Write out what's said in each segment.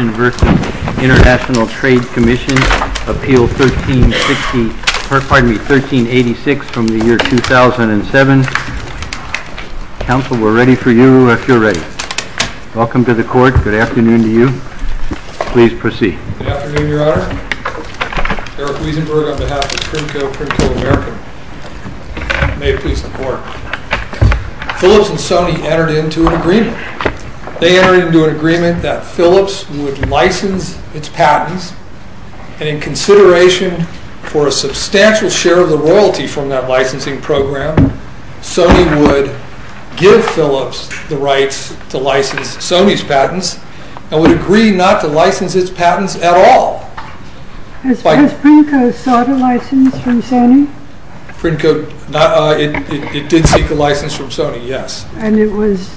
International Trade Commission, Appeal 1386 from the year 2007. Counsel, we're ready for you. We're sure ready. Welcome to the court. Good afternoon to you. Please proceed. Good afternoon, Your Honor. Eric Wiedenberg on behalf of Trinco, Prince of America. May it please the Court. Philips and Sony entered into an agreement. They entered into an agreement that Philips would license its patents, and in consideration for a substantial share of the royalty from that licensing program, Sony would give Philips the rights to license Sony's patents, and would agree not to license its patents at all. Has Prince Princo sought a license from Sony? It did seek a license from Sony, yes. And it was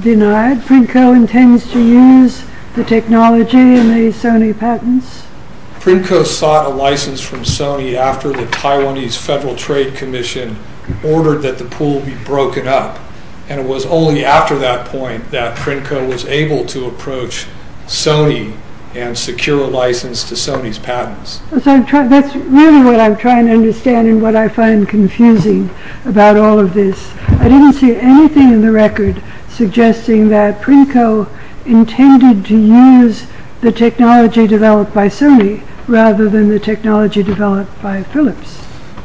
denied? Princo intends to use the technology in the Sony patents? Princo sought a license from Sony after the Taiwanese Federal Trade Commission ordered that the pool be broken up, and it was only after that point that Princo was able to approach Sony and secure a license to Sony's patents. That's really what I'm trying to understand and what I find confusing about all of this. I didn't see anything in the record suggesting that Princo intended to use the technology developed by Sony rather than the technology developed by Philips.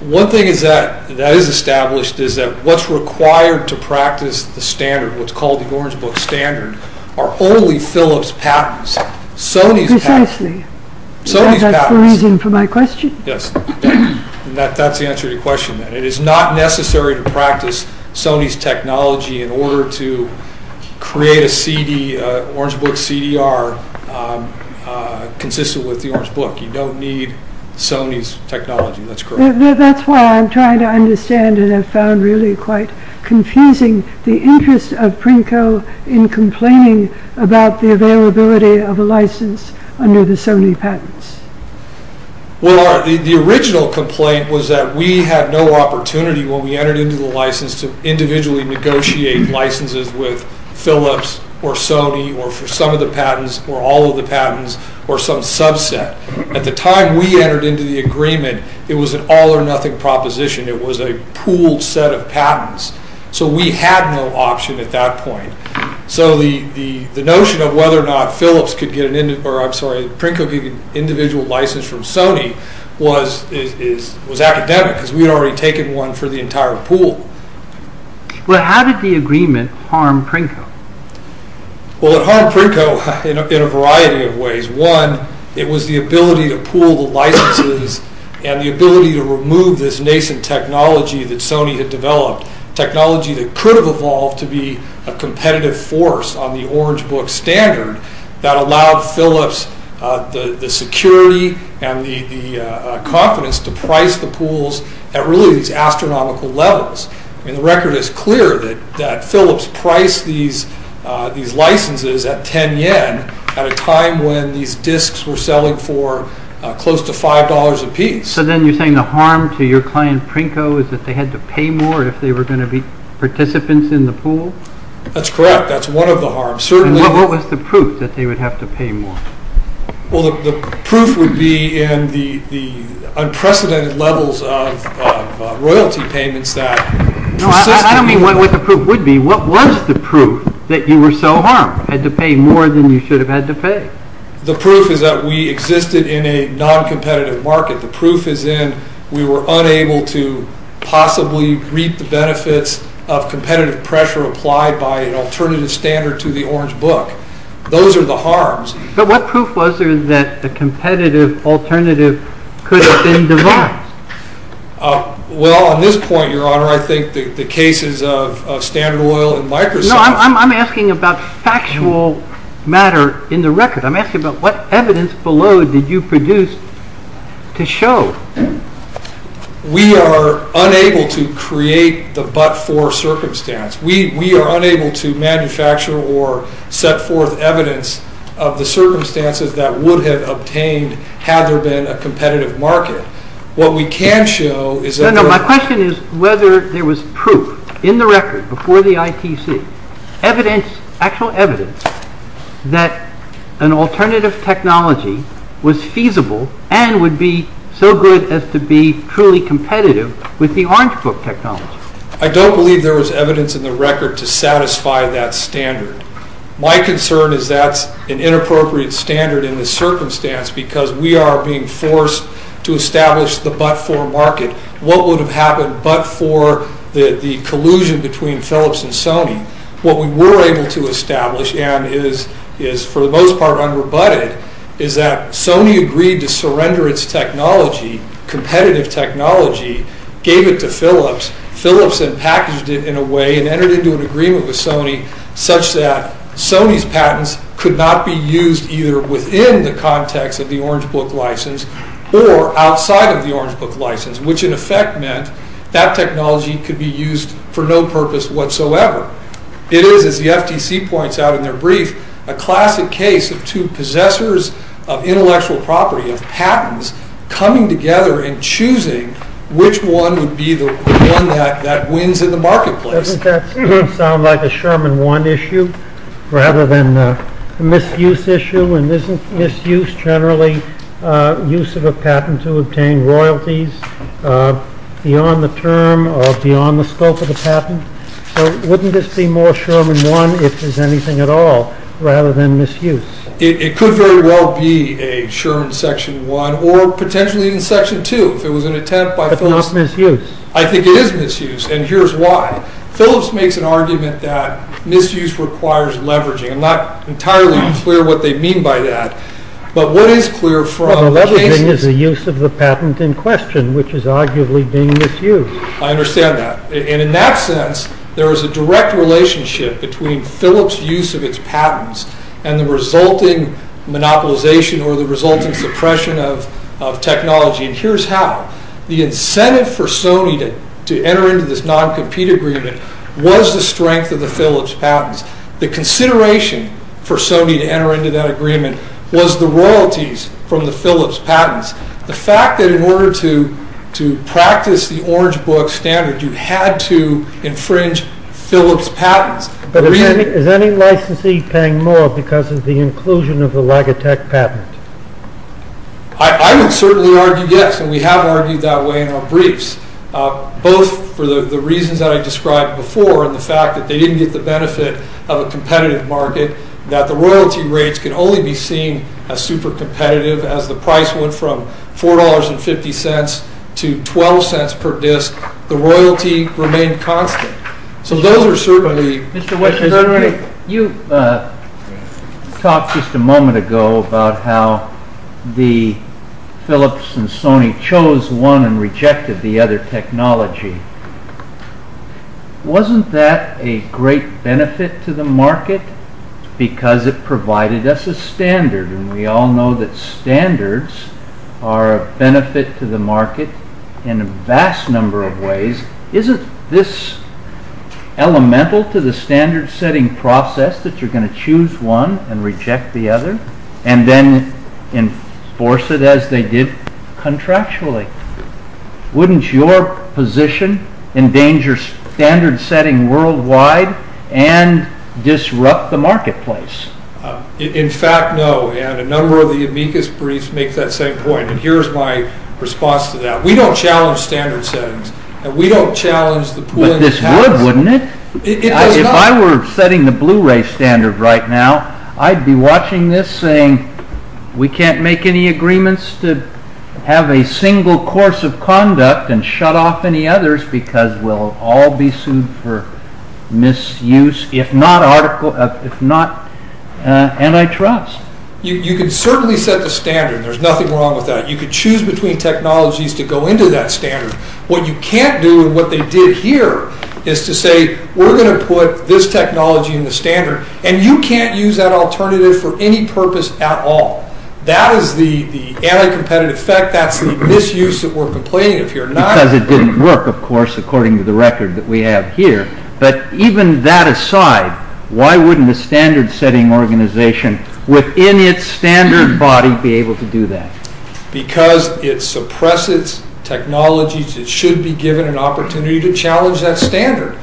One thing that is established is that what's required to practice the standard, what's called the Orange Book Standard, are only Philips' patents. Precisely. Is that the reason for my question? Yes. That's the answer to your question. It is not necessary to practice Sony's technology in order to create an Orange Book CD-R consistent with the Orange Book. You don't need Sony's technology, that's correct. That's why I'm trying to understand and have found really quite confusing the interest of Princo in complaining about the availability of a license under the Sony patents. Well, the original complaint was that we had no opportunity when we entered into the license to individually negotiate licenses with Philips or Sony or for some of the patents or all of the patents or some subset. At the time we entered into the agreement, it was an all-or-nothing proposition. It was a pooled set of patents. So we had no option at that point. So the notion of whether or not Philips could get an individual license from Sony was academic because we had already taken one for the entire pool. Well, how did the agreement harm Princo? Well, it harmed Princo in a variety of ways. One, it was the ability to pool licenses and the ability to remove this nascent technology that Sony had developed, technology that could have evolved to be a competitive force on the Orange Book standard that allowed Philips the security and the confidence to price the pools at really astronomical levels. And the record is clear that Philips priced these licenses at 10 yen at a time when these disks were selling for close to $5 a piece. So then you're saying the harm to your client, Princo, is that they had to pay more if they were going to be participants in the pool? That's correct. That's one of the harms. And what was the proof that they would have to pay more? Well, the proof would be in the unprecedented levels of royalty payments that... No, I don't mean what the proof would be. What was the proof that you were so harmed, had to pay more than you should have had to pay? The proof is that we existed in a non-competitive market. The proof is then we were unable to possibly reap the benefits of competitive pressure applied by an alternative standard to the Orange Book. Those are the harms. But what proof was there that the competitive alternative could have been devised? Well, on this point, Your Honor, I think the cases of Standard Oil and Microsoft... No, I'm asking about factual matter in the record. I'm asking about what evidence below did you produce to show? We are unable to create the but-for circumstance. We are unable to manufacture or set forth evidence of the circumstances that would have obtained had there been a competitive market. What we can show is that... No, no, my question is whether there was proof in the record before the ITC, evidence, actual evidence, that an alternative technology was feasible and would be so good as to be truly competitive with the Orange Book technology. I don't believe there was evidence in the record to satisfy that standard. My concern is that's an inappropriate standard in this circumstance because we are being forced to establish the but-for market. What would have happened but for the collusion between Philips and Sony? What we were able to establish and is for the most part unrebutted is that Sony agreed to surrender its technology, competitive technology, gave it to Philips. Philips then packaged it in a way and entered into an agreement with Sony such that Sony's patents could not be used either within the context of the Orange Book license or outside of the Orange Book license, which in effect meant that technology could be used for no purpose whatsoever. It is, as the FTC points out in their brief, a classic case of two possessors of intellectual property, of patents, coming together and choosing which one would be the one that wins in the marketplace. Doesn't that sound like a Sherman 1 issue rather than a misuse issue? And isn't misuse generally use of a patent to obtain royalties beyond the term or beyond the scope of the patent? So wouldn't this be more Sherman 1 if there's anything at all rather than misuse? It could very well be a Sherman Section 1 or potentially even Section 2 if it was an attempt by Philips. But it's not misuse. I think it is misuse, and here's why. Philips makes an argument that misuse requires leveraging. I'm not entirely clear what they mean by that. But what is clear from leveraging? Well, leveraging is the use of the patent in question, which is arguably being misused. I understand that. And in that sense, there is a direct relationship between Philips' use of its patents and the resulting monopolization or the resulting suppression of technology. And here's how. The incentive for Sony to enter into this non-compete agreement was the strength of the Philips patents. The consideration for Sony to enter into that agreement was the royalties from the Philips patents. The fact that in order to practice the Orange Book standard, you had to infringe Philips' patents. But is any licensee paying more because of the inclusion of the Logitech patents? I would certainly argue yes, and we have argued that way in our briefs, both for the reason that I described before and the fact that they didn't get the benefit of a competitive market, that the royalty rates could only be seen as super competitive as the price went from $4.50 to $0.12 per disc. The royalty remained constant. Mr. West, you talked just a moment ago about how the Philips and Sony chose one and rejected the other technology. Wasn't that a great benefit to the market because it provided us a standard? And we all know that standards are a benefit to the market in a vast number of ways. Isn't this elemental to the standard-setting process that you're going to choose one and reject the other and then enforce it as they did contractually? Wouldn't your position endanger standard-setting worldwide and disrupt the marketplace? In fact, no, and a number of the amicus briefs make that same point, and here's my response to that. We don't challenge standard-settings, and we don't challenge the pull-in. But this would, wouldn't it? It does not. If I were setting the Blu-ray standard right now, I'd be watching this saying, we can't make any agreements to have a single course of conduct and shut off any others because we'll all be sued for misuse, if not anti-trust. You could certainly set the standard. There's nothing wrong with that. You could choose between technologies to go into that standard. What you can't do and what they did here is to say, we're going to put this technology in the standard, and you can't use that alternative for any purpose at all. That is the anti-competitive effect, that's the misuse that we're complaining of here. Because it didn't work, of course, according to the record that we have here. But even that aside, why wouldn't a standard-setting organization within its standard body be able to do that? Because it suppresses technologies that should be given an opportunity to challenge that standard.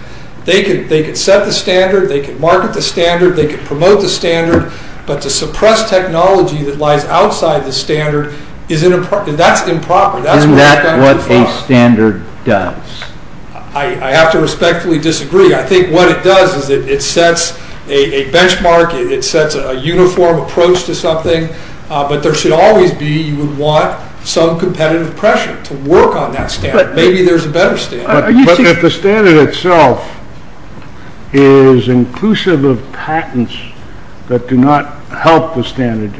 They could set the standard, they could market the standard, they could promote the standard, but to suppress technology that lies outside the standard, that's improper. And that's what a standard does. I have to respectfully disagree. I think what it does is it sets a benchmark, it sets a uniform approach to something, but there should always be, you would want, some competitive pressure to work on that standard. Maybe there's a better standard. But if the standard itself is inclusive of patents that do not help the standard,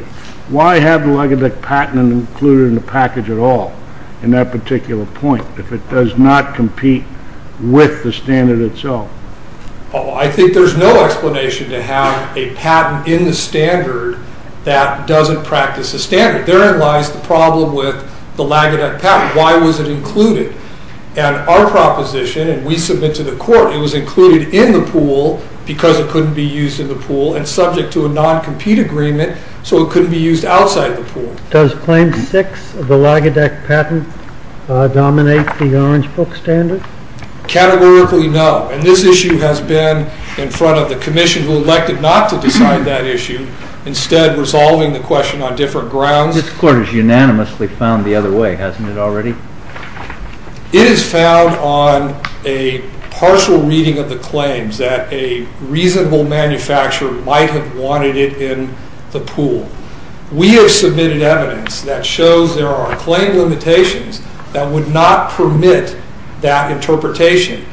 why haven't I got that patent included in the package at all in that particular point? If it does not compete with the standard itself. Well, I think there's no explanation to have a patent in the standard that doesn't practice the standard. Therein lies the problem with the Lagodec patent. Why was it included? And our proposition, and we submit to the court, it was included in the pool because it couldn't be used in the pool and subject to a non-compete agreement so it couldn't be used outside the pool. Does claim six of the Lagodec patent dominate the Orange Book standard? Categorically, no. And this issue has been in front of the commission who elected not to decide that issue, instead resolving the question on different grounds. This court is unanimously found the other way, hasn't it already? It is found on a partial reading of the claims that a reasonable manufacturer might have wanted it in the pool. We have submitted evidence that shows there are claim limitations that would not permit that interpretation.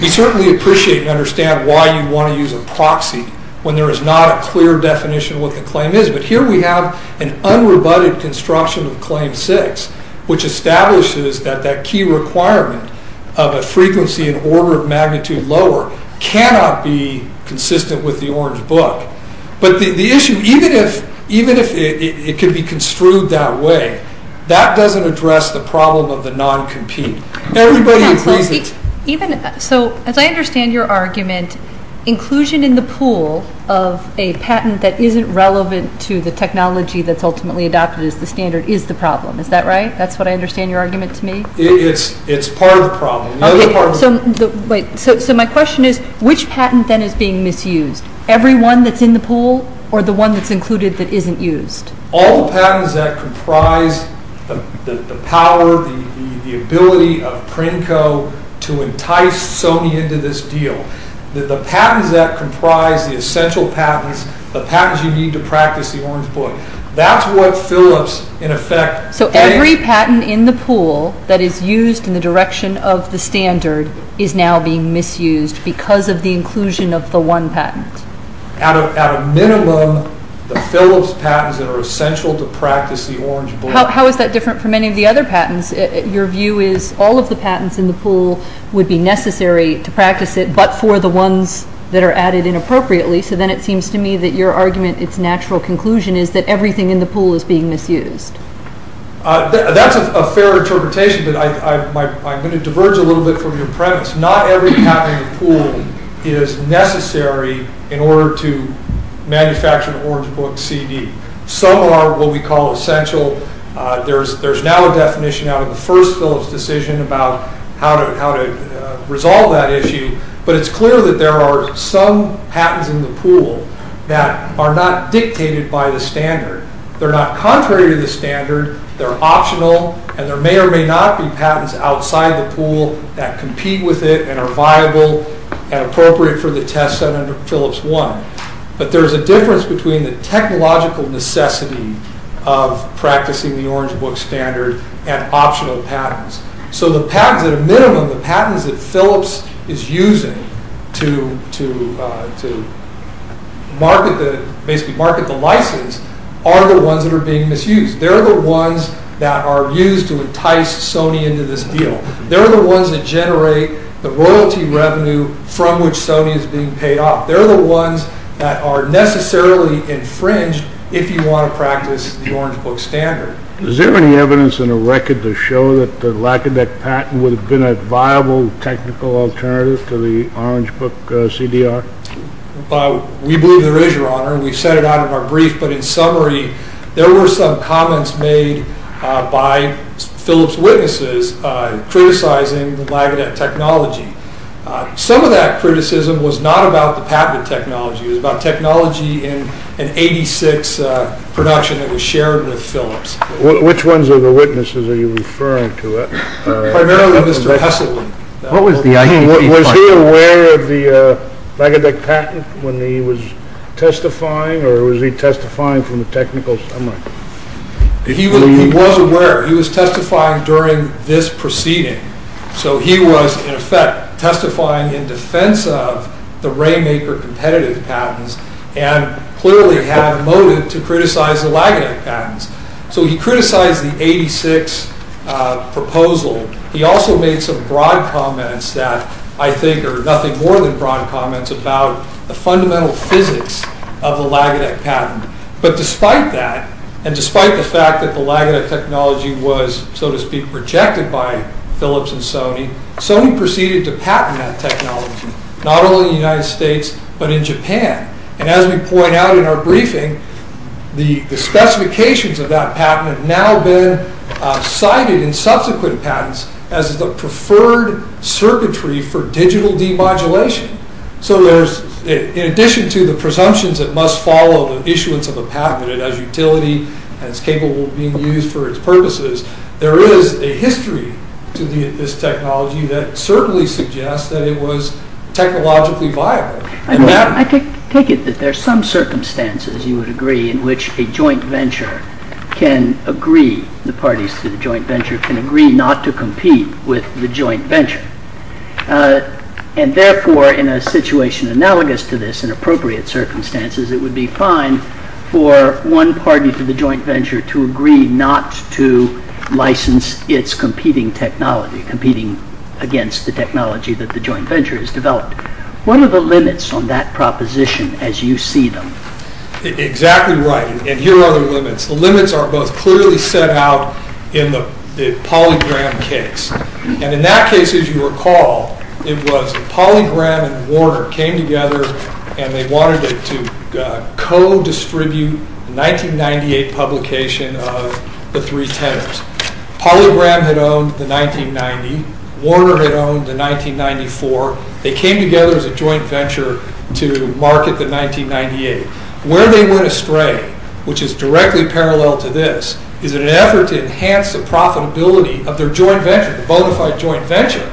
We certainly appreciate and understand why you want to use a proxy when there is not a clear definition of what the claim is. But here we have an unrebutted construction of claim six, which establishes that that key requirement of a frequency in order of magnitude lower cannot be consistent with the Orange Book. But the issue, even if it can be construed that way, that doesn't address the problem of the non-compete. Everybody agrees that... So, as I understand your argument, inclusion in the pool of a patent that isn't relevant to the technology that's ultimately adopted as the standard is the problem. Is that right? That's what I understand your argument to be? It's part of the problem. So my question is, which patent then is being misused? Every one that's in the pool or the one that's included that isn't used? All the patents that comprise the power, the ability of Cranko to entice Sony into this deal. The patents that comprise the essential patents, the patents you need to practice the Orange Book. That's what fill us in effect. So every patent in the pool that is used in the direction of the standard is now being misused because of the inclusion of the one patent? At a minimum, the fill us patents that are essential to practice the Orange Book. How is that different from any of the other patents? Your view is all of the patents in the pool would be necessary to practice it, but for the ones that are added inappropriately. So then it seems to me that your argument, its natural conclusion is that everything in the pool is being misused. That's a fair interpretation. I'm going to diverge a little bit from your premise. Not every patent in the pool is necessary in order to manufacture an Orange Book CD. Some are what we call essential. There's now a definition out of the first fill us decision about how to resolve that issue, but it's clear that there are some patents in the pool that are not dictated by the standard. They're not contrary to the standard. They're optional, and there may or may not be patents outside the pool that compete with it and are viable and appropriate for the test set under fill us one. But there's a difference between the technological necessity of practicing the Orange Book standard and optional patents. So the minimum of patents that fill us is using to market the license are the ones that are being misused. They're the ones that are used to entice Sony into this deal. They're the ones that generate the royalty revenue from which Sony is being paid off. They're the ones that are necessarily infringed if you want to practice the Orange Book standard. Is there any evidence in the record to show that the lackadaisical patent would have been a viable technical alternative to the Orange Book CDR? We believe there is, Your Honor. We've said it out of our brief. But in summary, there were some comments made by Phillips' witnesses criticizing the Lagodec technology. Some of that criticism was not about the patent technology. It was about technology in an 86 production that was shared with Phillips. Which ones of the witnesses are you referring to? Primarily Mr. Hesselman. Was he aware of the Lagodec patent when he was testifying, or was he testifying from a technical standpoint? He was aware. He was testifying during this proceeding. So he was, in effect, testifying in defense of the RayMaker competitive patents and clearly had a motive to criticize the Lagodec patents. So he criticized the 86 proposal. He also made some broad comments that I think are nothing more than broad comments about the fundamental physics of the Lagodec patent. But despite that, and despite the fact that the Lagodec technology was, so to speak, projected by Phillips and Sony, Sony proceeded to patent that technology, not only in the United States, but in Japan. And as we point out in our briefing, the specifications of that patent have now been cited in subsequent patents as the preferred servitory for digital demodulation. So in addition to the presumptions that must follow the issuance of a patent, as utility, as capable of being used for its purposes, there is a history to this technology that certainly suggests that it was technologically viable. I take it that there are some circumstances, you would agree, in which a joint venture can agree, the parties to the joint venture can agree not to compete with the joint venture. And therefore, in a situation analogous to this, in appropriate circumstances, it would be fine for one party to the joint venture to agree not to license its competing technology, competing against the technology that the joint venture has developed. What are the limits on that proposition as you see them? Exactly right. And here are the limits. The limits are both clearly set out in the PolyGram case. And in that case, as you recall, it was PolyGram and Warner came together and they wanted to co-distribute the 1998 publication of The Three Tenors. PolyGram had owned the 1990. Warner had owned the 1994. They came together as a joint venture to market the 1998. Where they went astray, which is directly parallel to this, is in an effort to enhance the profitability of their joint venture, the bonafide joint venture,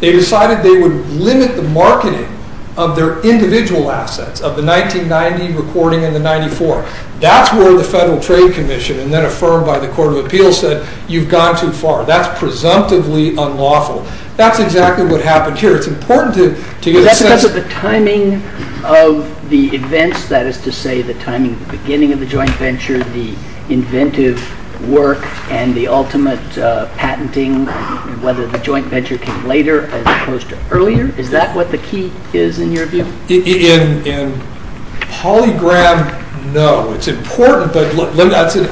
they decided they would limit the marketing of their individual assets of the 1990 recording and the 94. That's where the Federal Trade Commission, and then affirmed by the Court of Appeals, said, you've gone too far. That's presumptively unlawful. That's exactly what happened here. It's important to... But that's because of the timing of the events, that is to say, the timing of the beginning of the joint venture, the inventive work, and the ultimate patenting, whether the joint venture came later as opposed to earlier? Is that what the key is in your view? In PolyGram, no. It's important, but that's the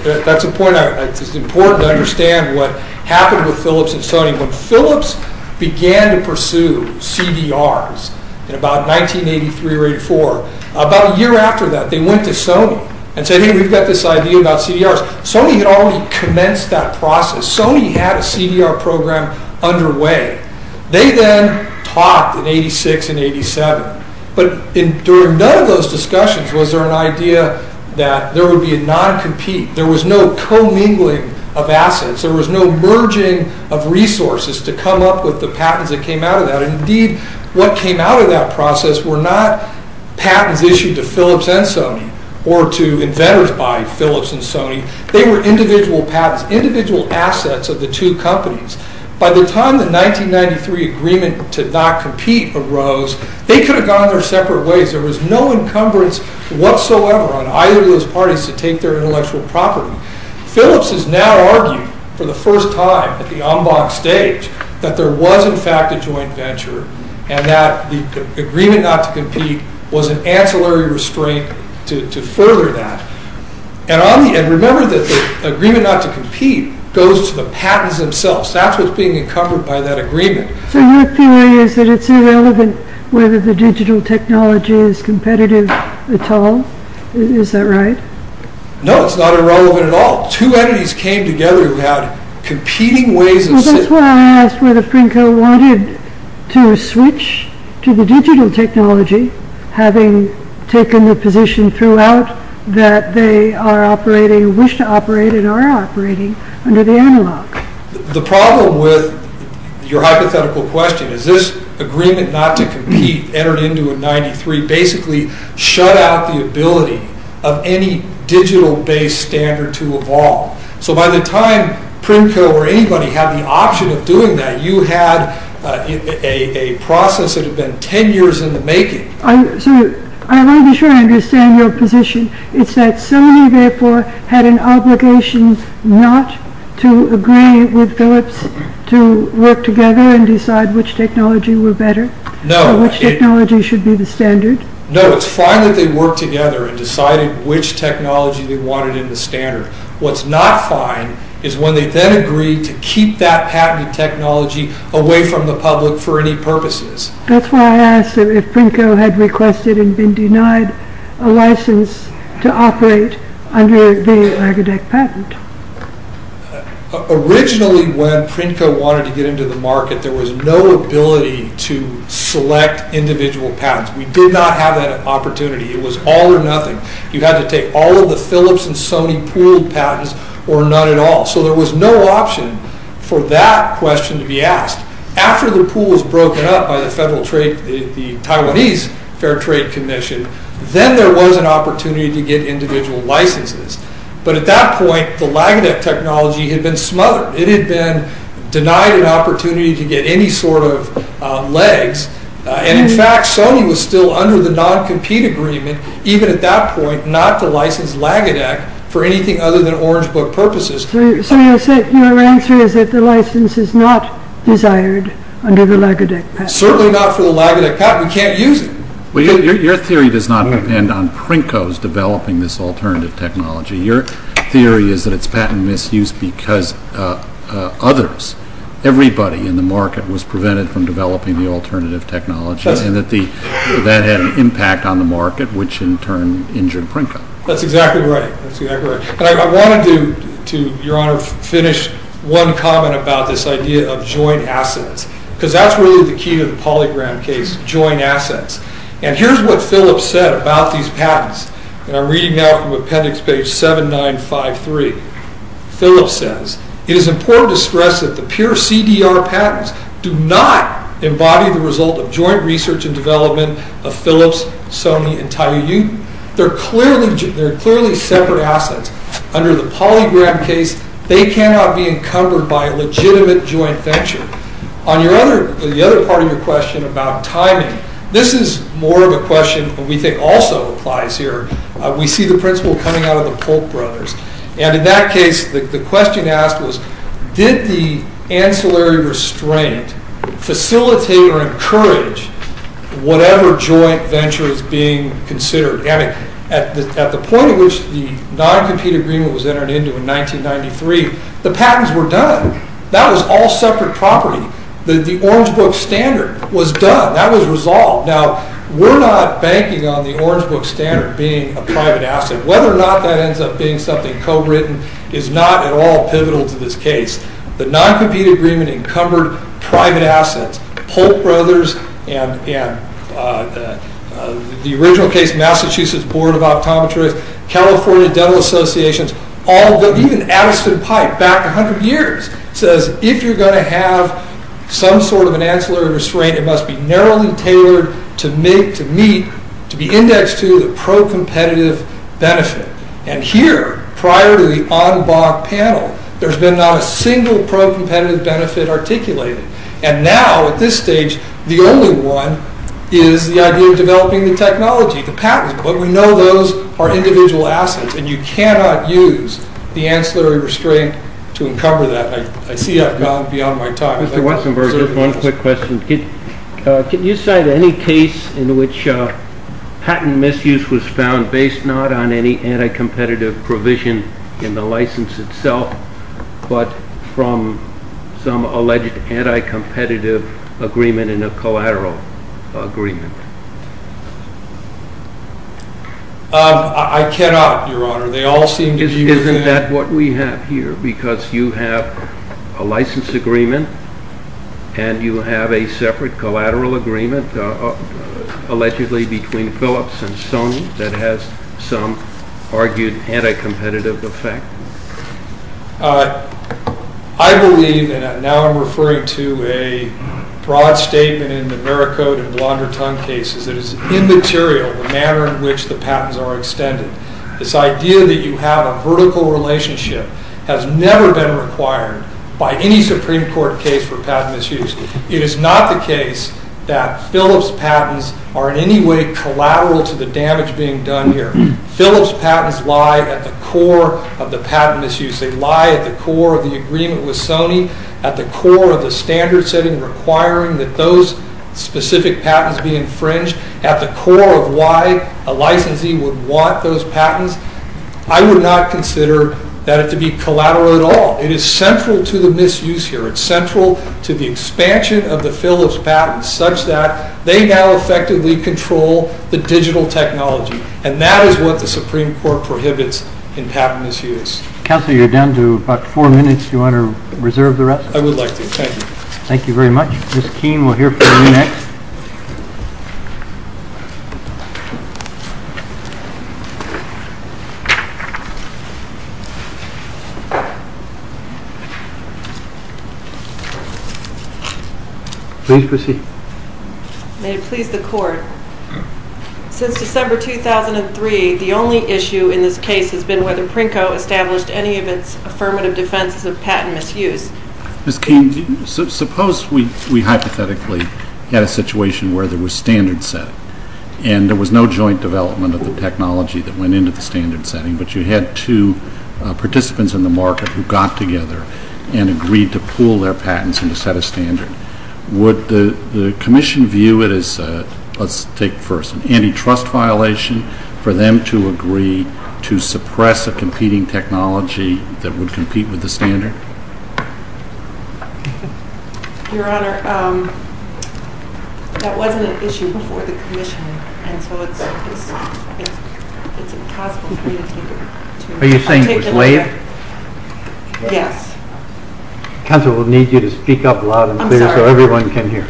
point. It's important to understand what happened with Phillips and Stoning. When Phillips began to pursue CDRs in about 1983 or 84, about a year after that, they went to Stoning and said, hey, we've got this idea about CDRs. Stoning almost commenced that process. Stoning had a CDR program underway. They then talked in 86 and 87. But during none of those discussions was there an idea that there would be a non-compete, there was no co-mingling of assets, there was no merging of resources to come up with the patents that came out of that. Indeed, what came out of that process were not patents issued to Phillips and Stoning or to inventors by Phillips and Stoning. They were individual assets of the two companies. By the time the 1993 agreement to not compete arose, they could have gone their separate ways. There was no encumbrance whatsoever on either of those parties to take their intellectual property. Phillips has now argued for the first time at the en banc stage that there was in fact a joint venture and that the agreement not to compete was an ancillary restraint to further that. And remember that the agreement not to compete goes to the patents themselves. That was being encumbered by that agreement. So your theory is that it's irrelevant whether the digital technology is competitive at all? Is that right? No, it's not irrelevant at all. Two entities came together about competing ways of... Well, that's why I asked whether Finco wanted to switch to the digital technology, having taken the position throughout that they are operating, wish to operate, and are operating under the analog. The problem with your hypothetical question is this agreement not to compete entered into in 1993 basically shut out the ability of any digital-based standard to evolve. So by the time Finco or anybody had the option of doing that, you had a process that had been ten years in the making. I want to be sure I understand your position. It's that Sony therefore had an obligation not to agree with Phillips to work together and decide which technology were better? No. Or which technology should be the standard? No, it's fine that they work together and decide which technology they wanted in the standard. What's not fine is when they then agreed to keep that patented technology away from the public for any purposes. That's why I asked if Finco had requested and been denied a license to operate under the Agadek patent. Originally when Finco wanted to get into the market, there was no ability to select individual patents. We did not have that opportunity. It was all or nothing. You had to take all of the Phillips and Sony pooled patents or none at all. So there was no option for that question to be asked. After the pool was broken up by the Taiwanese Fair Trade Commission, then there was an opportunity to get individual licenses. But at that point, the Agadek technology had been smothered. It had been denied the opportunity to get any sort of legs. In fact, Sony was still under the non-compete agreement, even at that point, not to license Agadek for anything other than Orange Book purposes. So your answer is that the license is not desired under the Agadek patent? Certainly not for the Agadek patent. You can't use it. Your theory does not depend on Finco's developing this alternative technology. Your theory is that it's patent misuse because others, everybody in the market, was prevented from developing the alternative technology and that had an impact on the market, which in turn injured Finco. That's exactly right. I wanted to, Your Honor, finish one comment about this idea of joint assets. Because that's really the key to the PolyGram case, joint assets. And here's what Phillips said about these patents. And I'm reading now from appendix page 7953. Phillips says, It is important to stress that the pure CDR patents do not embody the result of joint research and development of Phillips, Sony, and Taiwanese. They're clearly separate assets. Under the PolyGram case, they cannot be encumbered by legitimate joint venture. On the other part of your question about timing, this is more of a question that we think also applies here. We see the principle coming out of the Polk brothers. And in that case, the question asked was, did the ancillary restraint facilitate or encourage whatever joint venture is being considered? At the point at which the non-compete agreement was entered into in 1993, the patents were done. That was all separate property. The Orange Book Standard was done. That was resolved. Now, we're not banking on the Orange Book Standard being a private asset. Whether or not that ends up being something co-written is not at all pivotal to this case. The non-compete agreement encumbered private assets. The Polk brothers and the original case, Massachusetts Board of Optometrists, California Dental Associations, all of them, even Allison Pike, back a hundred years, says if you're going to have some sort of an ancillary restraint, it must be narrowly tailored to meet, to be indexed to the pro-competitive benefit. And here, prior to the Audubon panel, there's been not a single pro-competitive benefit articulated. And now, at this stage, the only one is the idea of developing the technology, the patent. But we know those are individual assets, and you cannot use the ancillary restraint to encumber that. I see I've gone beyond my time. One quick question. Can you cite any case in which patent misuse was found based not on any anti-competitive provision in the license itself, but from some alleged anti-competitive agreement in a collateral agreement? I cannot, Your Honor. Isn't that what we have here? Because you have a license agreement and you have a separate collateral agreement, allegedly between Phillips and Sony, that has some argued anti-competitive effect. I believe, and now I'm referring to a broad statement in the Veracode and Blondertongue cases, that it's immaterial the manner in which the patents are extended. This idea that you have a vertical relationship has never been required by any Supreme Court case for patent misuse. It is not the case that Phillips patents are in any way collateral to the damage being done here. Phillips patents lie at the core of the patent misuse. They lie at the core of the agreement with Sony, at the core of the standard setting requiring that those specific patents be infringed, at the core of why a licensee would want those patents. I would not consider that to be collateral at all. It is central to the misuse here. It's central to the expansion of the Phillips patents, such that they now effectively control the digital technology. And that is what the Supreme Court prohibits in patent misuse. Counselor, you're down to about four minutes. Do you want to reserve the rest? I would like to. Thank you. Thank you very much. Ms. Keene, we'll hear from you next. Please proceed. May it please the Court, since December 2003, the only issue in this case has been whether Prinko established any of his affirmative defenses of patent misuse. Ms. Keene, suppose we hypothetically had a situation where there was standard set and there was no joint development of the technology that went into the standard setting, but you had two participants in the market who got together and agreed to pool their patents in a set of standards. Would the Commission view it as, let's take it first, an antitrust violation for them to agree to suppress a competing technology that would compete with the standard? Your Honor, that wasn't an issue before the Commission. Are you saying just lay it? Yes. Counselor, we'll need you to speak up loud and clear so everyone can hear.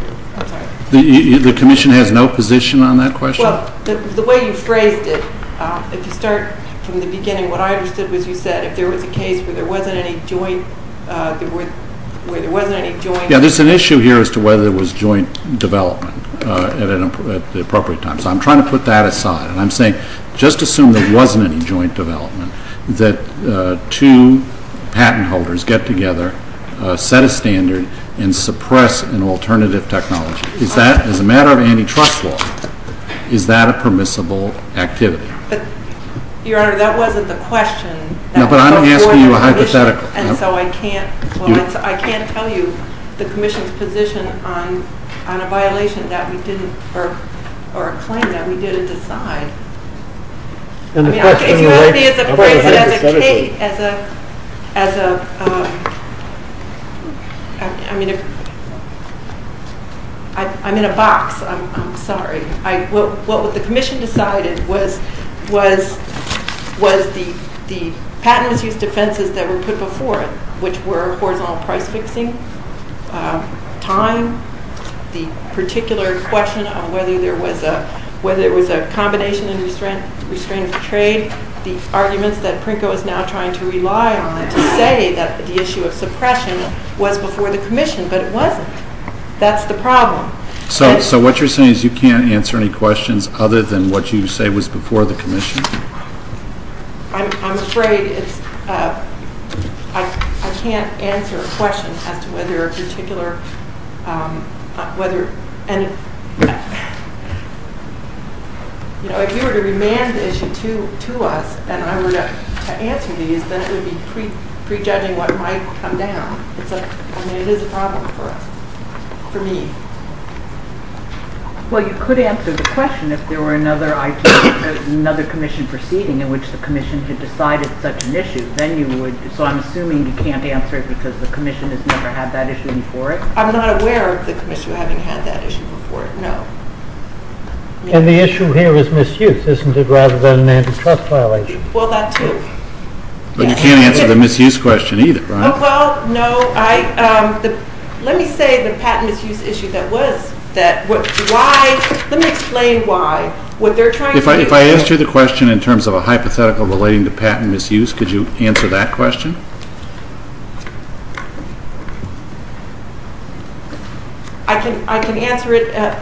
The Commission has no position on that question? Well, the way you phrased it, if you start from the beginning, what I understood was you said if there was a case where there wasn't any joint... Yeah, there's an issue here as to whether there was joint development at the appropriate time. So I'm trying to put that aside, and I'm saying just assume there wasn't any joint development, that two patent holders get together, set a standard, and suppress an alternative technology. Is that, as a matter of antitrust law, is that a permissible activity? Your Honor, that wasn't the question. No, but I'm not asking you a hypothetical. And so I can't tell you the Commission's position on a violation that we didn't, or a claim that we didn't decide. I'm in a box. I'm sorry. What the Commission decided was the patent abuse defenses that were put before it, which were, first of all, price fixing, time, the particular question on whether there was a combination of restraints of trade, the arguments that Prinko is now trying to rely on to say that the issue of suppression was before the Commission, but it wasn't. That's the problem. So what you're saying is you can't answer any questions other than what you say was before the Commission? I'm afraid I can't answer questions as to whether a particular, whether, and, you know, if you were to remand the issue to us and I were to answer these, then you'd be prejudging what might come down. It's like, I mean, it is a problem for us, for me. Well, you could answer the question if there were another IC, another Commission proceeding in which the Commission had decided such an issue, then you would, so I'm assuming you can't answer it because the Commission has never had that issue before it? I'm not aware of the Commission having had that issue before it, no. And the issue here is misuse, isn't it, rather than an antitrust violation? Well, that's true. But you can't answer the misuse question either, can you? Well, no. Let me say the patent misuse issue that was, why, let me explain why. If I ask you the question in terms of a hypothetical relating to patent misuse, could you answer that question? I can answer it and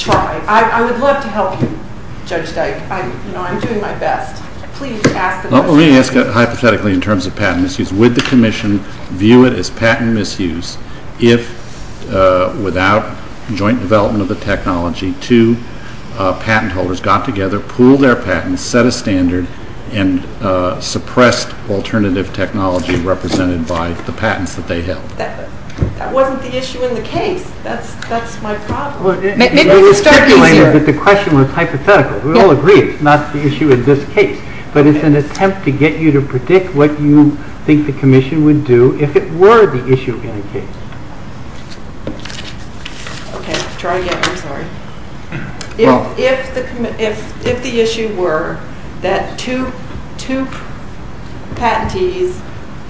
try. I would love to help you, Judge Geis. I'm doing my best. Please ask the question. Well, let me ask it hypothetically in terms of patent misuse. Would the Commission view it as patent misuse if, without joint development of the technology, the two patent holders got together, pooled their patents, set a standard, and suppressed alternative technology represented by the patents that they held? That wasn't the issue in the case. That's my problem. Maybe you're speculating that the question was hypothetical. We all agree it's not the issue in this case. But it's an attempt to get you to predict what you think the Commission would do if it were the issue in the case. Okay. Try again. I'm sorry. If the issue were that two patentees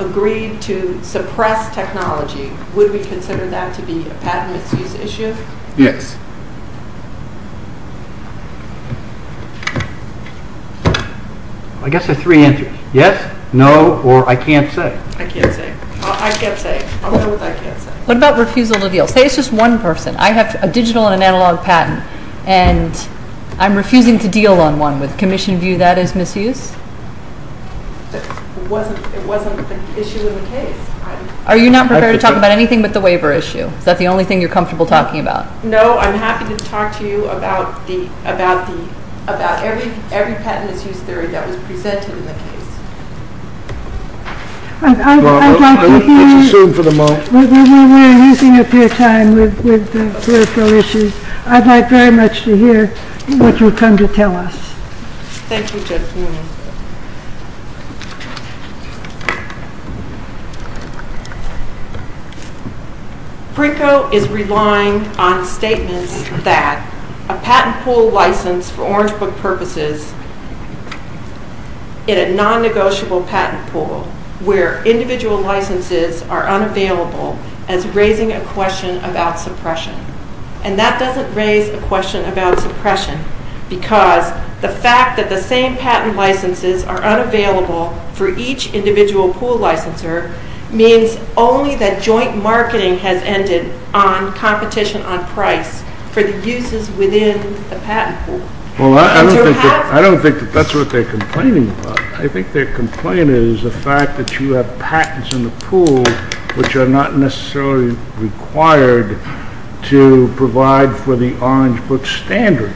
agreed to suppress technology, would we consider that to be a patent misuse issue? Yes. I guess there are three answers. Yes, no, or I can't say. What about refusal to deal? Say it's just one person. I have a digital and an analog patent, and I'm refusing to deal on one. Would the Commission view that as misuse? It wasn't an issue in the case. Are you not prepared to talk about anything but the waiver issue? Is that the only thing you're comfortable talking about? No, I'm happy to talk to you about every patent misuse theory that was presented in the case. I'd like to hear what you've come to tell us. Thank you, Justine. BRICCO is relying on statements that a patent pool license for orange book purposes in a non-negotiable patent pool where individual licenses are unavailable is raising a question about suppression. And that doesn't raise the question about suppression, because the fact that the same patent licenses are unavailable for each individual pool licensor means only that joint marketing has ended on competition on price for the uses within the patent pool. I don't think that's what they're complaining about. I think their complaint is the fact that you have patents in the pool which are not necessarily required to provide for the orange book standard.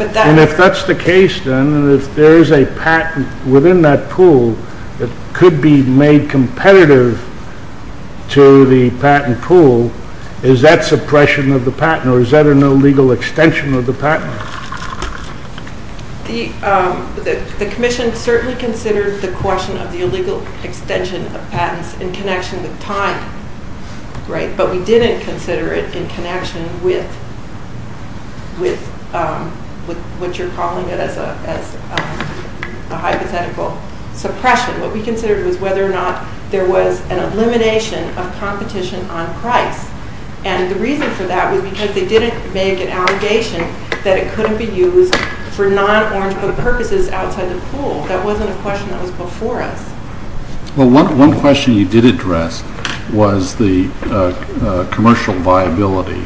If that's the case, then, if there is a patent within that pool that could be made competitive to the patent pool, is that suppression of the patent or is that an illegal extension of the patent? The commission certainly considers the question of the illegal extension of patents in connection with time, but we didn't consider it in connection with what you're calling the hypothetical suppression. What we considered was whether or not there was an elimination of competition on price. And the reason for that was because they didn't make an allegation that it couldn't be used for non-orange book purposes outside the pool. That wasn't a question that was before us. Well, one question you did address was the commercial viability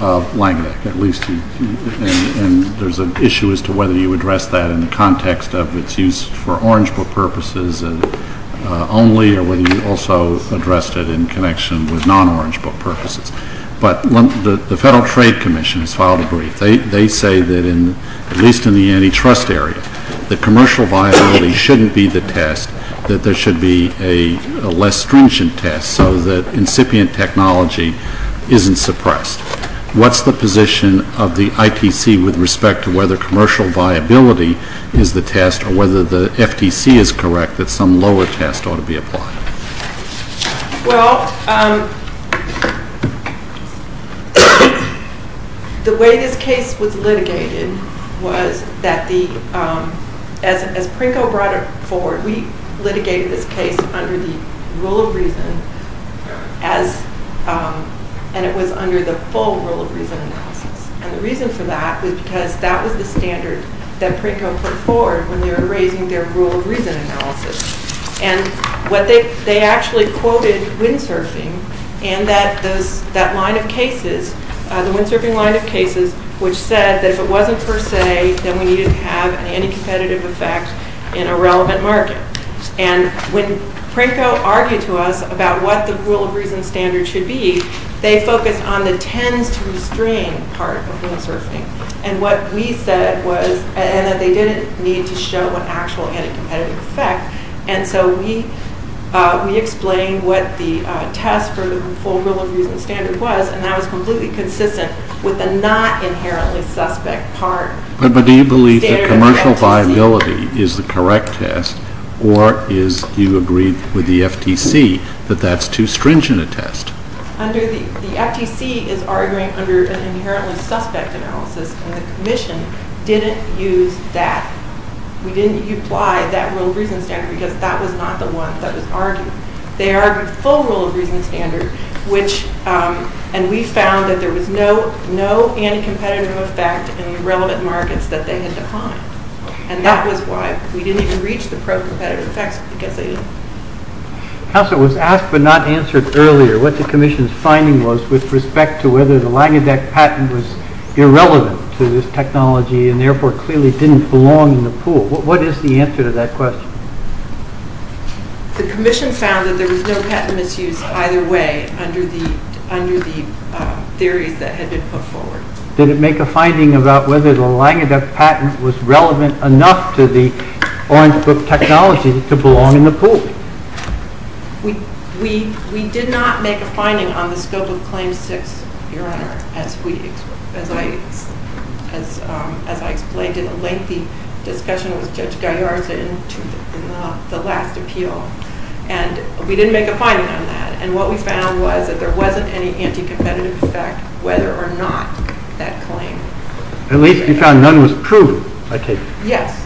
of Langbeck, at least. And there's an issue as to whether you addressed that in the context of its use for orange book purposes only or whether you also addressed it in connection with non-orange book purposes. But the Federal Trade Commission has filed a brief. They say that, at least in the antitrust area, that commercial viability shouldn't be the test, that there should be a less stringent test so that incipient technology isn't suppressed. What's the position of the ITC with respect to whether commercial viability is the test or whether the FTC is correct that some lower test ought to be applied? Well, the way this case was litigated was that as Prinko brought it forward, we litigated this case under the rule of reason and it was under the full rule of reason analysis. And the reason for that was because that was the standard that Prinko put forward when they were raising their rule of reason analysis. And they actually quoted windsurfing in that line of cases, the windsurfing line of cases, which said that if it wasn't per se, then we didn't have any competitive effect in a relevant market. And when Prinko argued to us about what the rule of reason standard should be, they focused on the tend to string part of windsurfing. And what we said was that they didn't need to show an actual competitive effect. And so we explained what the test for the full rule of reason standard was and that was completely consistent with the not inherently suspect part. But do you believe that commercial viability is the correct test or do you agree with the FTC that that's too stringent a test? The FTC is arguing under an inherently suspect analysis and its mission didn't use that. We didn't use why, that rule of reason standard, because that was not the one that was argued. They argued the full rule of reason standard and we found that there was no anti-competitive effect in the relevant markets that they had defined. And that was why. We didn't even reach the pro-competitive effect because they didn't. Counselor, it was asked but not answered earlier what the Commission's finding was with respect to whether the Langedeck patent was irrelevant to this technology and therefore clearly didn't belong in the pool. What is the answer to that question? The Commission found that there was no patent misuse either way under the theories that had been put forward. Did it make a finding about whether the Langedeck patent was relevant enough to the Orange Book technology to belong in the pool? We did not make a finding on the civil claim to be lax. As I explained in a lengthy discussion with Judge Goddard at the end of the last appeal, and we didn't make a finding on that. And what we found was that there wasn't any anti-competitive effect whether or not that claim. At least you found none was true, I take it. Yes.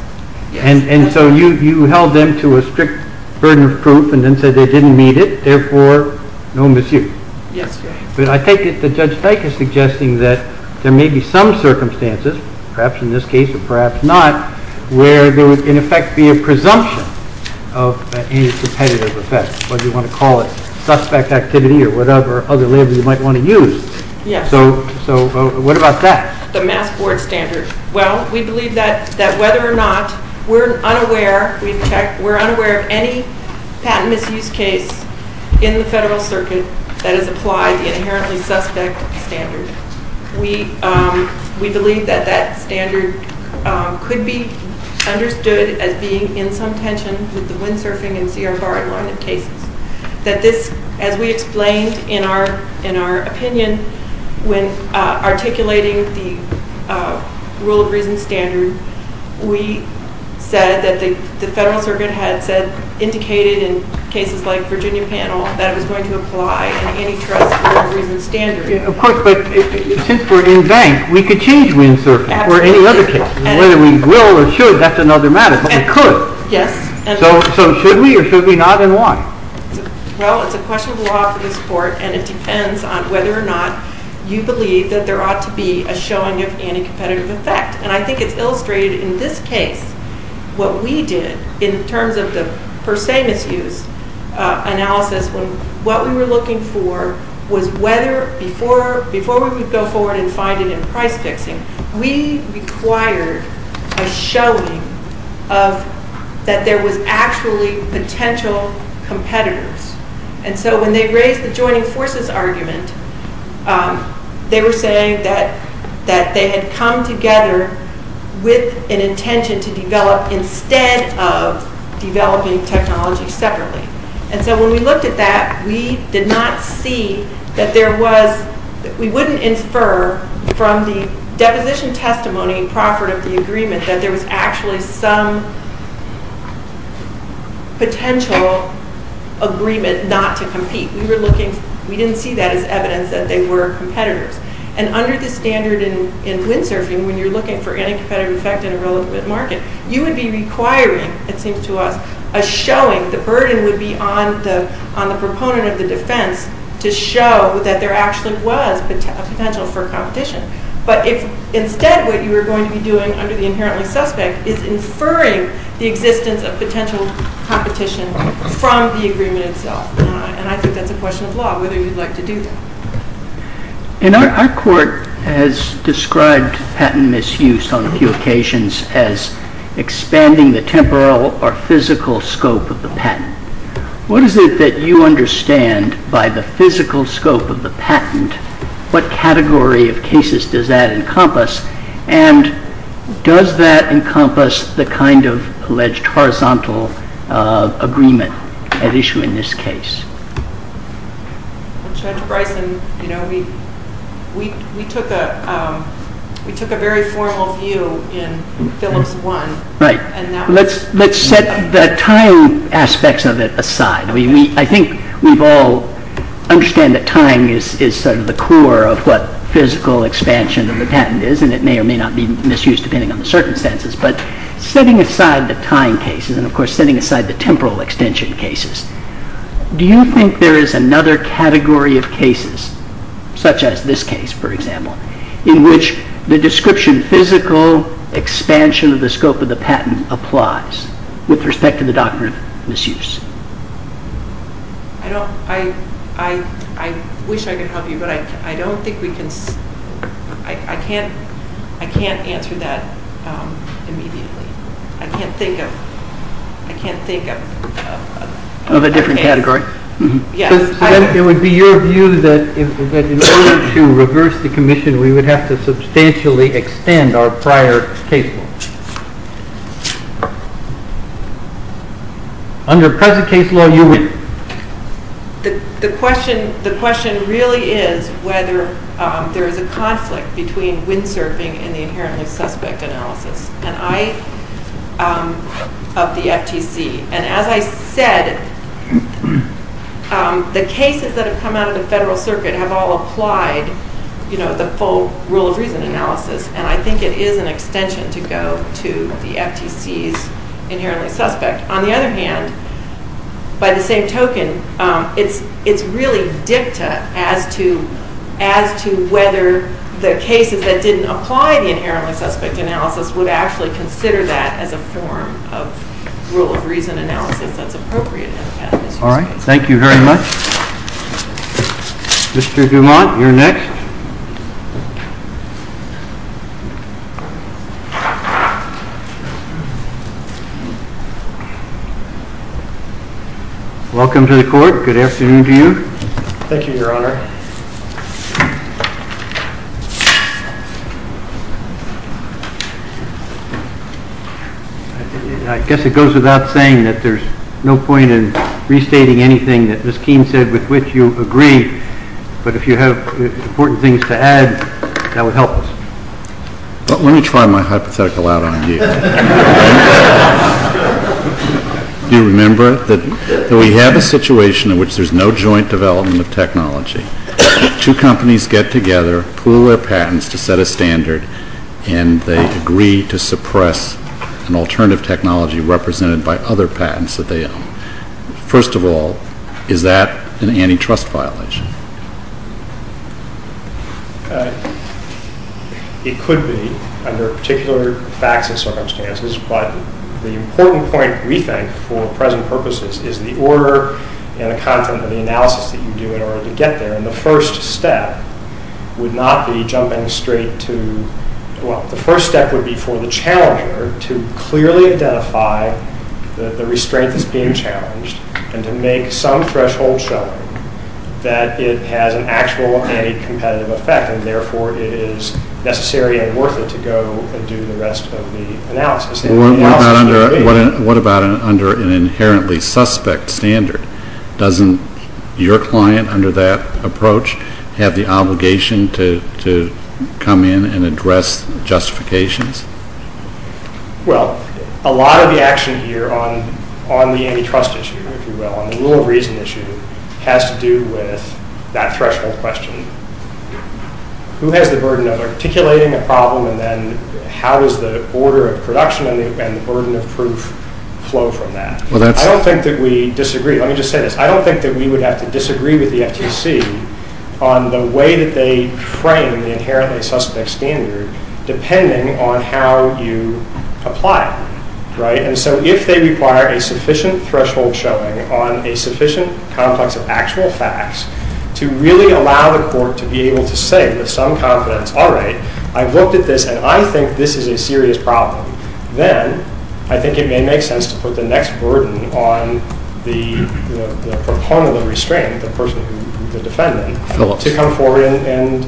And so you held them to a strict burden of proof and then said they didn't need it, therefore, no misuse. Yes. But I take it that Judge Dyke is suggesting that there may be some circumstances, perhaps in this case or perhaps not, where there would, in effect, be a presumption of any competitive effect. Whether you want to call it suspect activity or whatever other word you might want to use. Yes. So what about that? The math board standard. Well, we believe that whether or not we're unaware, we've checked, we're unaware of any patent abuse case in the federal circuit that has applied the inherently suspect standard. We believe that that standard could be understood as being in some tensions with the windsurfing and CSRI line of cases. As we explained in our opinion, when articulating the rule of reason standards, we said that the federal circuit has indicated in cases like Virginia panel that it's going to apply any type of rule of reason standard. Of course, but since we're in vain, we could change windsurfing or any other case. Whether we will or should, that's another matter. We could. Yes. So should we or should we not and why? Well, it's a question of law and it depends on whether or not you believe that there ought to be a showing of any competitive effect. And I think it's illustrated in this case what we did in terms of the per se misuse analysis. What we were looking for was whether before we would go forward and find it in the price fixing, we required a showing of that there was actually potential competitors. And so when they raised the joining forces argument, they were saying that they had come together with an intention to develop instead of developing technology separately. And so when we looked at that, we did not see that there was – we wouldn't infer from the deposition testimony proper of the agreement that there was actually some potential agreement not to compete. We were looking – we didn't see that as evidence that they were competitors. And under the standard in blue surfing, when you're looking for any competitive effect in a relevant market, you would be requiring, it seems to us, a showing. The burden would be on the proponent of the defense to show that there actually was a potential for competition. But instead what you are going to be doing under the inherently suspects is inferring the existence of potential competition from the agreement itself. And I think that's a question of law, whether you'd like to do that. Our court has described patent misuse on a few occasions as expanding the temporal or physical scope of the patent. What is it that you understand by the physical scope of the patent? What category of cases does that encompass? And does that encompass the kind of alleged horizontal agreement at issue in this case? We took a very formal view in Phyllis 1. Right. Let's set the time aspects of it aside. I think we all understand that time is sort of the core of what physical expansion of the patent is, and it may or may not be misused depending on the circumstances. But setting aside the time cases and, of course, setting aside the temporal extension cases, do you think there is another category of cases, such as this case, for example, in which the description physical expansion of the scope of the patent applies with respect to the doctrine of misuse? I wish I could help you, but I don't think we can. I can't answer that immediately. I can't think of a different category. It would be your view that in order to reverse the commission, we would have to substantially expand our prior cases. The question really is whether there is a conflict between windsurfing and the inherently suspect analysis of the FTC. And as I said, the cases that have come out of the Federal Circuit have all applied the full rule of reason analysis, and I think it is an extension to federal law. On the other hand, by the same token, it is really a dicta as to whether the cases that didn't apply the inherently suspect analysis would actually consider that as a form of rule of reason analysis as appropriate in this case. All right. Thank you very much. Mr. Dumont, you're next. Welcome to the Court. Good afternoon to you. Thank you, Your Honor. I guess it goes without saying that there's no point in restating anything that Ms. Keene said with which you agree, but if you have important things to add, that would help us. Let me try my hypothetical out on you. Do you remember that we had a situation in which there's no joint development of technology? Two companies get together, pool their patents to set a standard, and they agree to suppress an alternative technology represented by other patents that they own. First of all, is that an antitrust violation? It could be, under particular facts and circumstances, but the important point, we think, for present purposes is the order and the content of the analysis that you do in order to get there, and the first step would not be jumping straight to—well, the first step would be for the challenger to clearly identify that the restraint is being challenged and to make some threshold set that it has an actual anti-competitive effect, and therefore it is necessary and worth it to go and do the rest of the analysis. What about under an inherently suspect standard? Doesn't your client, under that approach, have the obligation to come in and address justifications? Well, a lot of the action here on the antitrust issue, if you will, on the rule of reason issue, has to do with that threshold question. Who has the burden of articulating a problem, and then how does the order of production and the burden of proof flow from that? I don't think that we disagree. Let me just say this. I don't think that we would have to disagree with the FTC on the way that they frame the inherently suspect standard depending on how you apply it, right? And so if they require a sufficient threshold showing on a sufficient context of actual facts to really allow the court to be able to say that some confidence, all right, I've looked at this and I think this is a serious problem, then I think it may make sense to put the next burden on the pro bono restraint, the person who is defending, to come forward and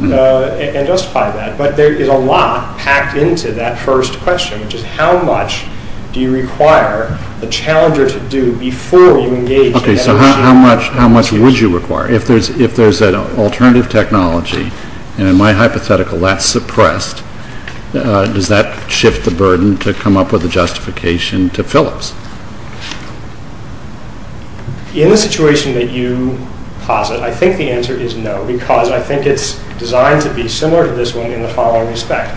justify that. But there is a lot packed into that first question, which is how much do you require the challenger to do before you engage them in an argument? Okay, so how much would you require? If there's an alternative technology, and in my hypothetical that's suppressed, does that shift the burden to come up with a justification to Phillips? In the situation that you posit, I think the answer is no, because I think it's designed to be similar to this one in the following respect.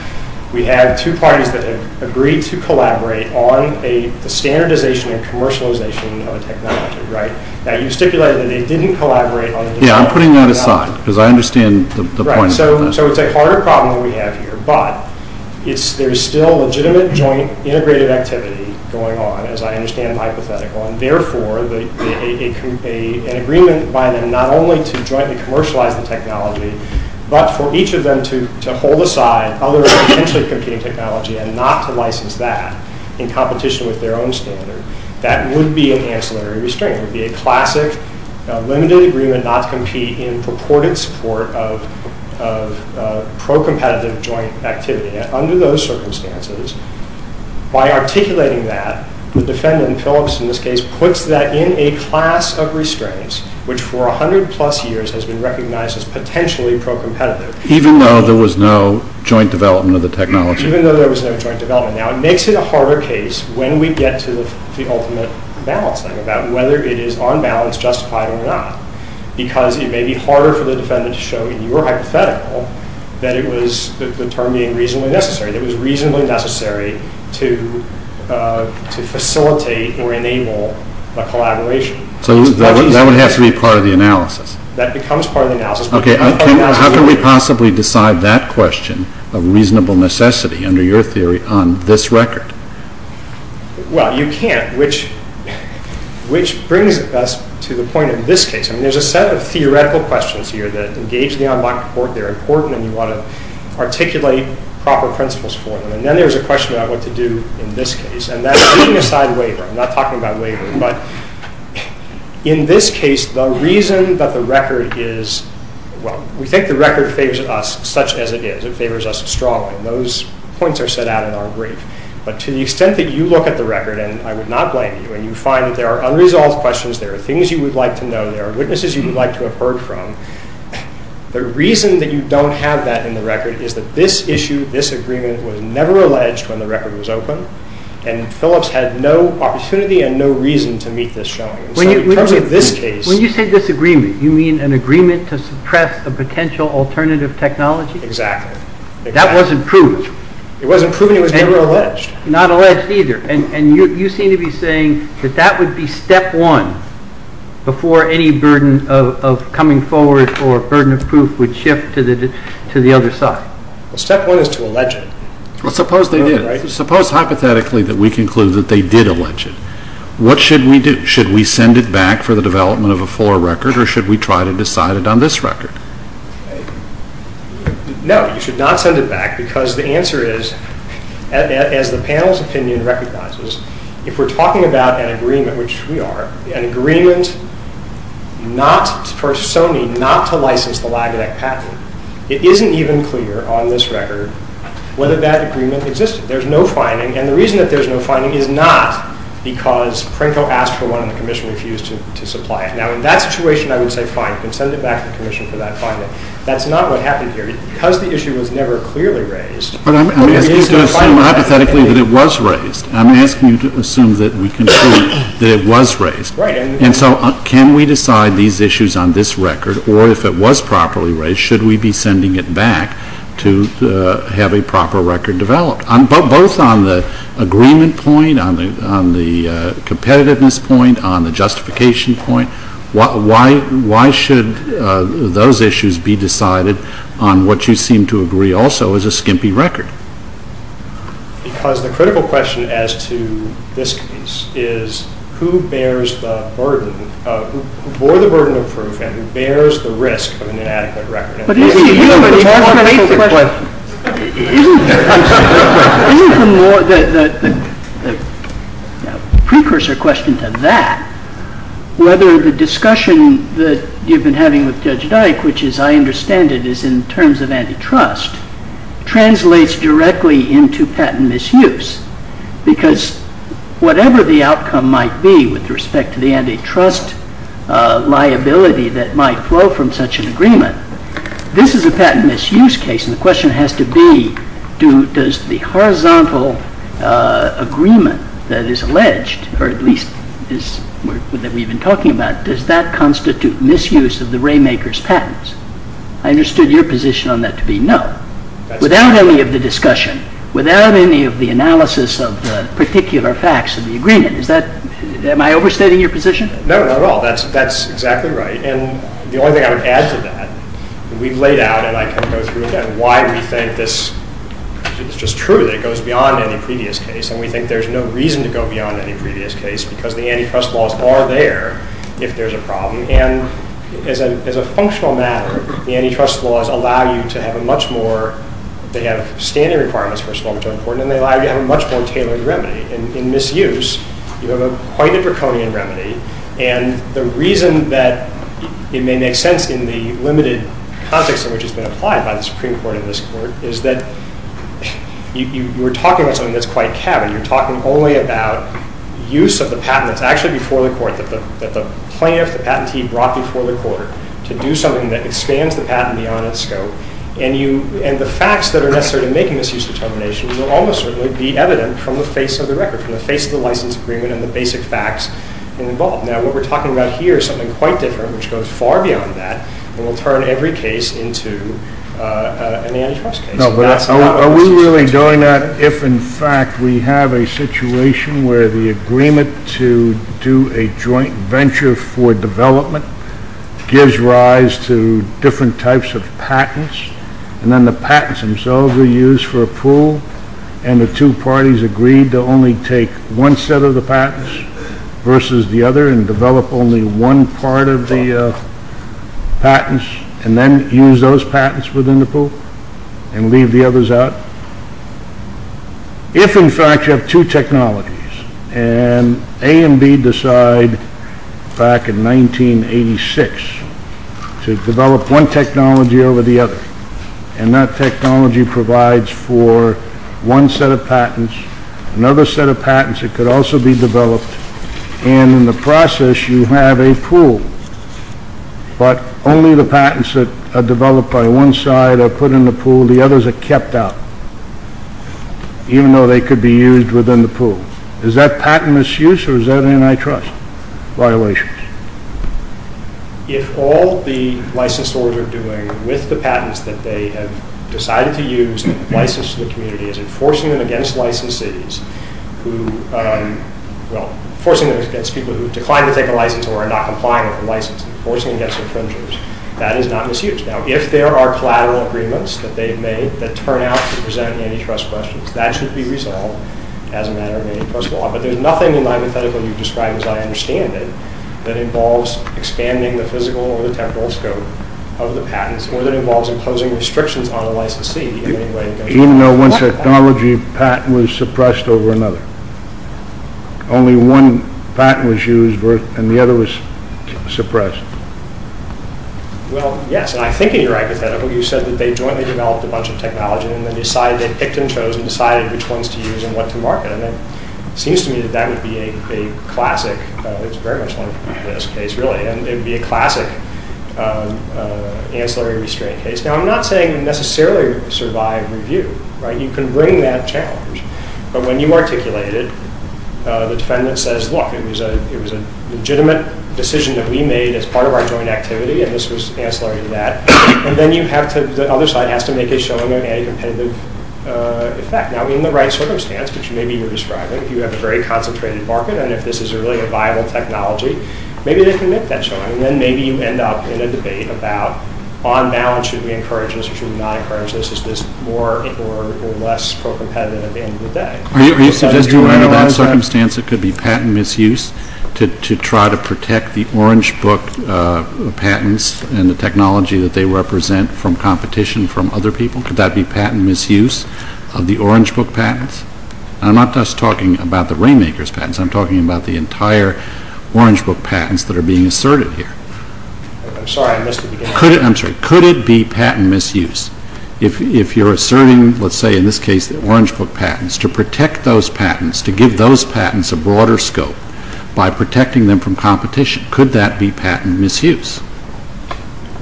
We have two parties that have agreed to collaborate on a standardization and commercialization of technology, right? Now, you stipulated that they didn't collaborate on it. Yeah, I'm putting that aside because I understand the point. Right, so it's a harder problem than we have here, but there's still legitimate joint integrative activity going on, as I understand hypothetical, and therefore an agreement by them not only to jointly commercialize the technology, but for each of them to hold aside other intercomputing technology and not to license that in competition with their own standard, that would be an ancillary restraint. It would be a classic limited agreement, not competing, purported support of pro-competitive joint activity. And under those circumstances, by articulating that, the defendant, Phillips in this case, puts that in a class of restraints, which for 100 plus years has been recognized as potentially pro-competitive. Even though there was no joint development of the technology. Even though there was no joint development. Now, it makes it a harder case when we get to the ultimate balancing, about whether it is on balance justified or not, because it may be harder for the defendant to show in your hypothetical that it was, the term being reasonably necessary, that it was reasonably necessary to facilitate or enable a collaboration. So that has to be part of the analysis. That becomes part of the analysis. Okay, how can we possibly decide that question of reasonable necessity under your theory on this record? Well, you can't, which brings us to the point of this case. There's a set of theoretical questions here that engage me on my report. They're important and you want to articulate proper principles for them. And then there's a question about what to do in this case. And that's being assigned waiver. I'm not talking about waiver. But in this case, the reason that the record is, well, we think the record favors us, such as it is. It favors us strongly. And those points are set out in our brief. But to the extent that you look at the record, and I would not blame you, and you find that there are unresolved questions, there are things you would like to know, there are witnesses you would like to have heard from. The reason that you don't have that in the record is that this issue, this agreement was never alleged when the record was open. And Phillips had no opportunity and no reason to meet this challenge. When you say disagreement, you mean an agreement to suppress a potential alternative technology? Exactly. That wasn't proved. It wasn't proven. It was never alleged. Not alleged either. And you seem to be saying that that would be step one before any burden of coming forward or burden of proof would shift to the other side. Step one is to allege it. Suppose they did. Suppose hypothetically that we conclude that they did allege it. What should we do? Should we send it back for the development of a for record, or should we try to decide it on this record? No, you should not send it back because the answer is, as the panel's opinion recognizes, if we're talking about an agreement, which we are, an agreement for Sony not to license the lab to that patent, it isn't even clear on this record whether that agreement existed. There's no finding, and the reason that there's no finding is not because Pringle asked for one and the commission refused to supply it. Now, in that situation, I would say fine, you can send it back to the commission for that finding. That's not what happened here. Because the issue was never clearly raised, but I'm asking you to assume hypothetically that it was raised. I'm asking you to assume that we can see that it was raised. And so can we decide these issues on this record, or if it was properly raised, should we be sending it back to have a proper record developed? Both on the agreement point, on the competitiveness point, on the justification point, why should those issues be decided on what you seem to agree also is a skimpy record. Because the critical question as to this case is, who bears the burden, who bore the burden of proof and who bears the risk of an inadequate record? But isn't the human question, isn't the human, isn't the, the precursor question to that, whether the discussion that you've been having with Judge Dyke, which as I understand it is in terms of antitrust, translates directly into patent misuse. Because whatever the outcome might be with respect to the antitrust liability that might flow from such an agreement, this is a patent misuse case, and the question has to be, does the horizontal agreement that is alleged, or at least that we've been talking about, does that constitute misuse of the ray maker's patents? I understood your position on that to be no. Without any of the discussion, without any of the analysis of the particular facts of the agreement, is that, am I overstating your position? No, not at all. That's exactly right. And the only thing I would add to that, we've laid out, and I can go through again, why we think this is just true, that it goes beyond any previous case, and we think there's no reason to go beyond any previous case, because the antitrust laws are there if there's a problem, and as a functional matter, the antitrust laws allow you to have a much more, they have standard requirements for a small-majority court, and they allow you to have a much more tailored remedy. In misuse, you have quite a draconian remedy, and the reason that it may make sense in the limited context in which it's been applied by the Supreme Court and this court, is that you're talking about something that's quite cavvy. You're talking only about use of the patent, if actually before the court, that the plaintiff, the patentee brought before the court, to do something that expands the patent beyond its scope, and the facts that are necessary in making this use determination will almost certainly be evident from the face of the record, from the face of the license agreement and the basic facts involved. Now, what we're talking about here is something quite different, which goes far beyond that, and will turn every case into an antitrust case. No, but are we really doing that, if in fact we have a situation where the agreement to do a joint venture for development gives rise to different types of patents, and then the patents themselves are used for a pool, and the two parties agree to only take one set of the patents versus the other, and develop only one part of the patents, and then use those patents within the pool, and leave the others out? If in fact you have two technologies, and A and B decide back in 1986 to develop one technology over the other, and that technology provides for one set of patents, another set of patents that could also be developed, and in the process you have a pool, but only the patents that are developed by one side are put in the pool, the others are kept out, even though they could be used within the pool. Is that patent misuse, or is that an antitrust violation? If all the licensors are doing with the patents that they have decided to use to license the community is enforcing them against licensees who, well, enforcing them against people who decline to take a license or are not complying with the license, enforcing them against infringers, that is not misuse. Now, if there are collateral agreements that they've made that turn out to present antitrust questions, that should be resolved as a matter of antitrust law, but there's nothing in my report that we've described, as I understand it, that involves expanding the physical or the technical scope of the patents, or that involves imposing restrictions on the licensees. Even though one technology patent was suppressed over another? Only one patent was used, and the other was suppressed? Well, yes, and I think you're right with that. You said that they jointly developed a bunch of technology, and then they picked and chose and decided which ones to use and what to market, and it seems to me that that would be a classic, it's very much like this case, really, and it would be a classic ancillary restraint case. Now, I'm not saying you necessarily survive review. You can bring that challenge, but when you articulate it, the defendant says, look, it was a legitimate decision that we made as part of our joint activity, and this was ancillary to that, and then the other side has to make a showing of an independent effect. Now, in the right circumstance, which maybe you were describing, if you have a very concentrated market, and if this is really a viable technology, maybe they commit that showing, and then maybe you end up in a debate about, on balance, should we encourage this or should we not encourage this, is this more or less pro-competitive at the end of the day? Are you suggesting we're in a lot of circumstances that could be patent misuse to try to protect the Orange Book patents and the technology that they represent from competition from other people? Could that be patent misuse of the Orange Book patents? I'm not just talking about the Rainmaker's patents. I'm talking about the entire Orange Book patents that are being asserted here. I'm sorry. I missed the beginning. I'm sorry. Could it be patent misuse? If you're asserting, let's say, in this case, the Orange Book patents, to protect those patents, to give those patents a broader scope by protecting them from competition, could that be patent misuse?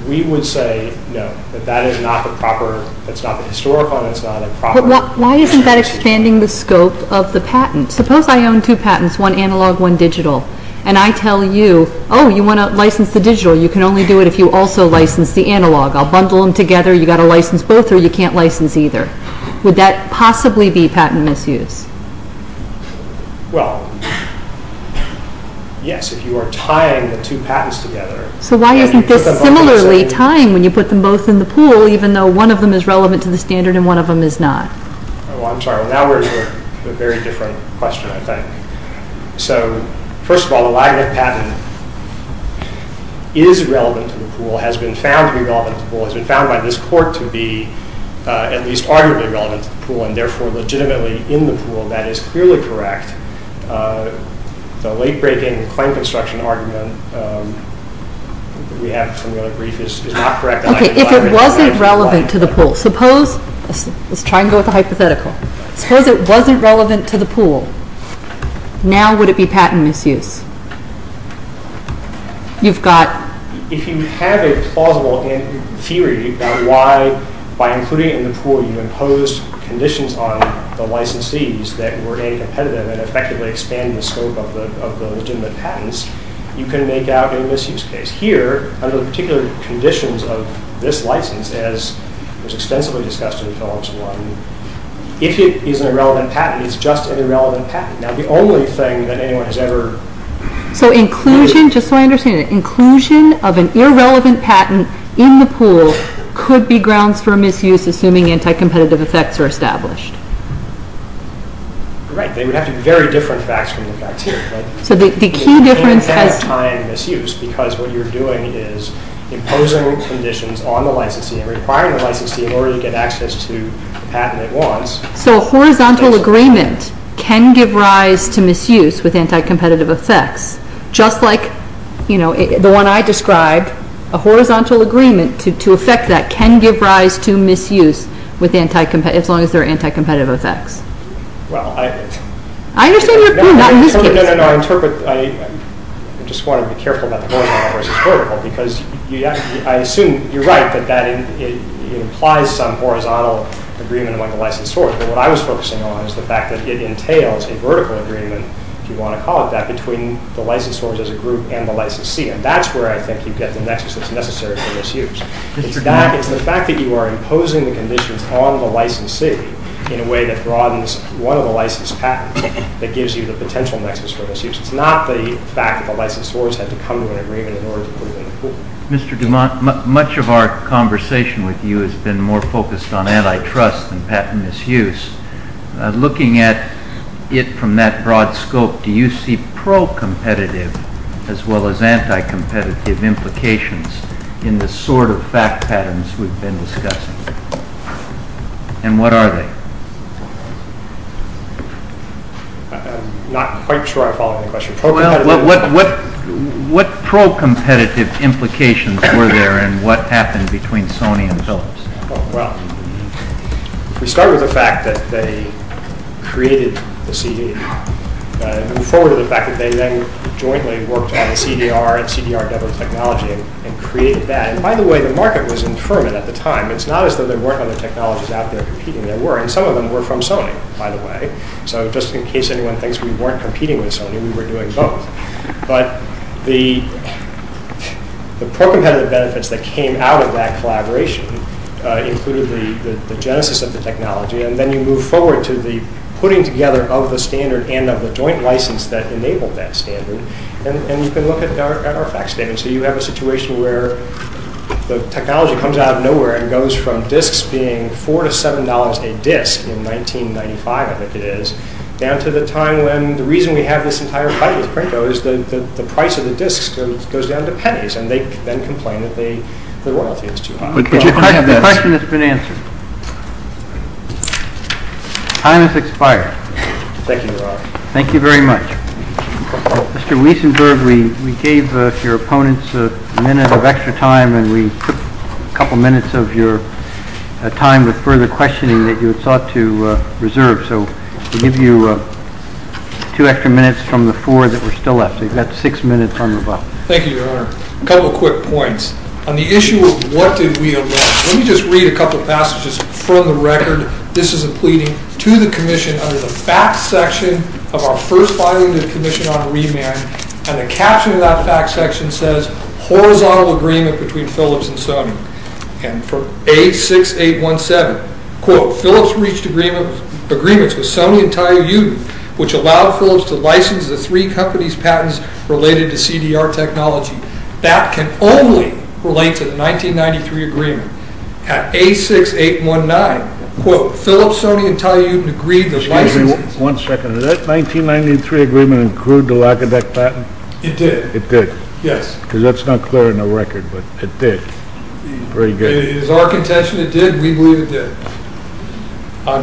We would say, no, that that is not the proper, that's not the historical, that's not a proper… But why isn't that expanding the scope of the patents? Suppose I own two patents, one analog, one digital, and I tell you, oh, you want to license the digital. You can only do it if you also license the analog. I'll bundle them together. You've got to license both, or you can't license either. Would that possibly be patent misuse? Well, yes, if you are tying the two patents together. So why are you consistently tying when you put them both in the pool, even though one of them is relevant to the standard and one of them is not? Oh, I'm sorry. Now we're getting to a very different question, I think. So, first of all, the Wagner patent is relevant to the pool, has been found to be relevant to the pool, has been found by this court to be at least arguably relevant to the pool and, therefore, legitimately in the pool. That is clearly correct. The late-breaking client construction argument we have from your brief is not correct. Okay, if it wasn't relevant to the pool, suppose… Let's try and go with a hypothetical. Suppose it wasn't relevant to the pool. Now would it be patent misuse? You've got… If you have a plausible theory about why, by including it in the pool, you imposed conditions on the licensees that were any competitive and effectively expanded the scope of the legitimate patents, you can make out a misuse case. Here, under the particular conditions of this license, as was extensively discussed in the films, if it is an irrelevant patent, it's just an irrelevant patent. Now the only thing that anyone has ever… So inclusion, just so I understand it, inclusion of an irrelevant patent in the pool could be grounds for misuse assuming anti-competitive effects are established. Right, they would have to be very different facts than the fact here. So the key difference… It can't have time misuse because what you're doing is imposing conditions on the licensee So a horizontal agreement can give rise to misuse with anti-competitive effects. Just like the one I described, a horizontal agreement to effect that can give rise to misuse as long as there are anti-competitive effects. I understand your point. I just want to be careful about the horizontal versus vertical because I assume you're right that that implies some horizontal agreement but what I was focusing on is the fact that it entails a vertical agreement, if you want to call it that, between the licensors as a group and the licensee and that's where I think you get the nexus that's necessary for misuse. The fact that you are imposing the conditions on the licensee in a way that broadens one of the license patents that gives you the potential nexus for misuse. It's not the fact that the licensors have to come to an agreement in order to move in the pool. Mr. Dumont, much of our conversation with you has been more focused on antitrust than patent misuse. Looking at it from that broad scope, do you see pro-competitive as well as anti-competitive implications in the sort of fact patterns we've been discussing? And what are they? I'm not quite sure I follow your question. What pro-competitive implications were there and what happened between Sony and Philips? We started with the fact that they created the CD. We move forward with the fact that they then jointly worked on CDR and CDR-level technology and created that. And by the way, the market was infirm at the time. It's not as though there weren't other technologies out there competing. There were, and some of them were from Sony, by the way. So just in case anyone thinks we weren't competing with Sony, we were doing both. But the pro-competitive benefits that came out of that collaboration included the genesis of the technology and then you move forward to the putting together of the standard and of the joint license that enabled that standard. And you can look at our facts data. So you have a situation where the technology comes out of nowhere and goes from discs being $4 to $7 a disc in 1995, I think it is, down to the time when the reason we have this entire fight with Pringles is the price of the discs goes down to pennies and they then complain that the royalty is too high. I have a question that's been answered. Time has expired. Thank you, Your Honor. Thank you very much. Mr. Wiesenberg, we gave your opponents a minute of extra time and we put a couple minutes of your time with further questioning that you had thought to reserve. So we'll give you two extra minutes from the floor that were still left. You've got six minutes on the bus. Thank you, Your Honor. A couple of quick points. On the issue of what did we elect, let me just read a couple of passages. For the record, this is a pleading to the commission under the facts section of our first finding of the commission on remand, and the caption of that facts section says horizontal agreement between Philips and Sony. And for A6817, Philips reached agreements with Sony and Telly Uden, which allowed Philips to license the three companies' patents related to CDR technology. That can only relate to the 1993 agreement. At A6819, Philips, Sony, and Telly Uden agreed to license... One second. Did that 1993 agreement include the Lacodec patent? It did. It did? Yes. Because that's not clear on the record, but it did. Very good. It is our contention it did. We believe it did. On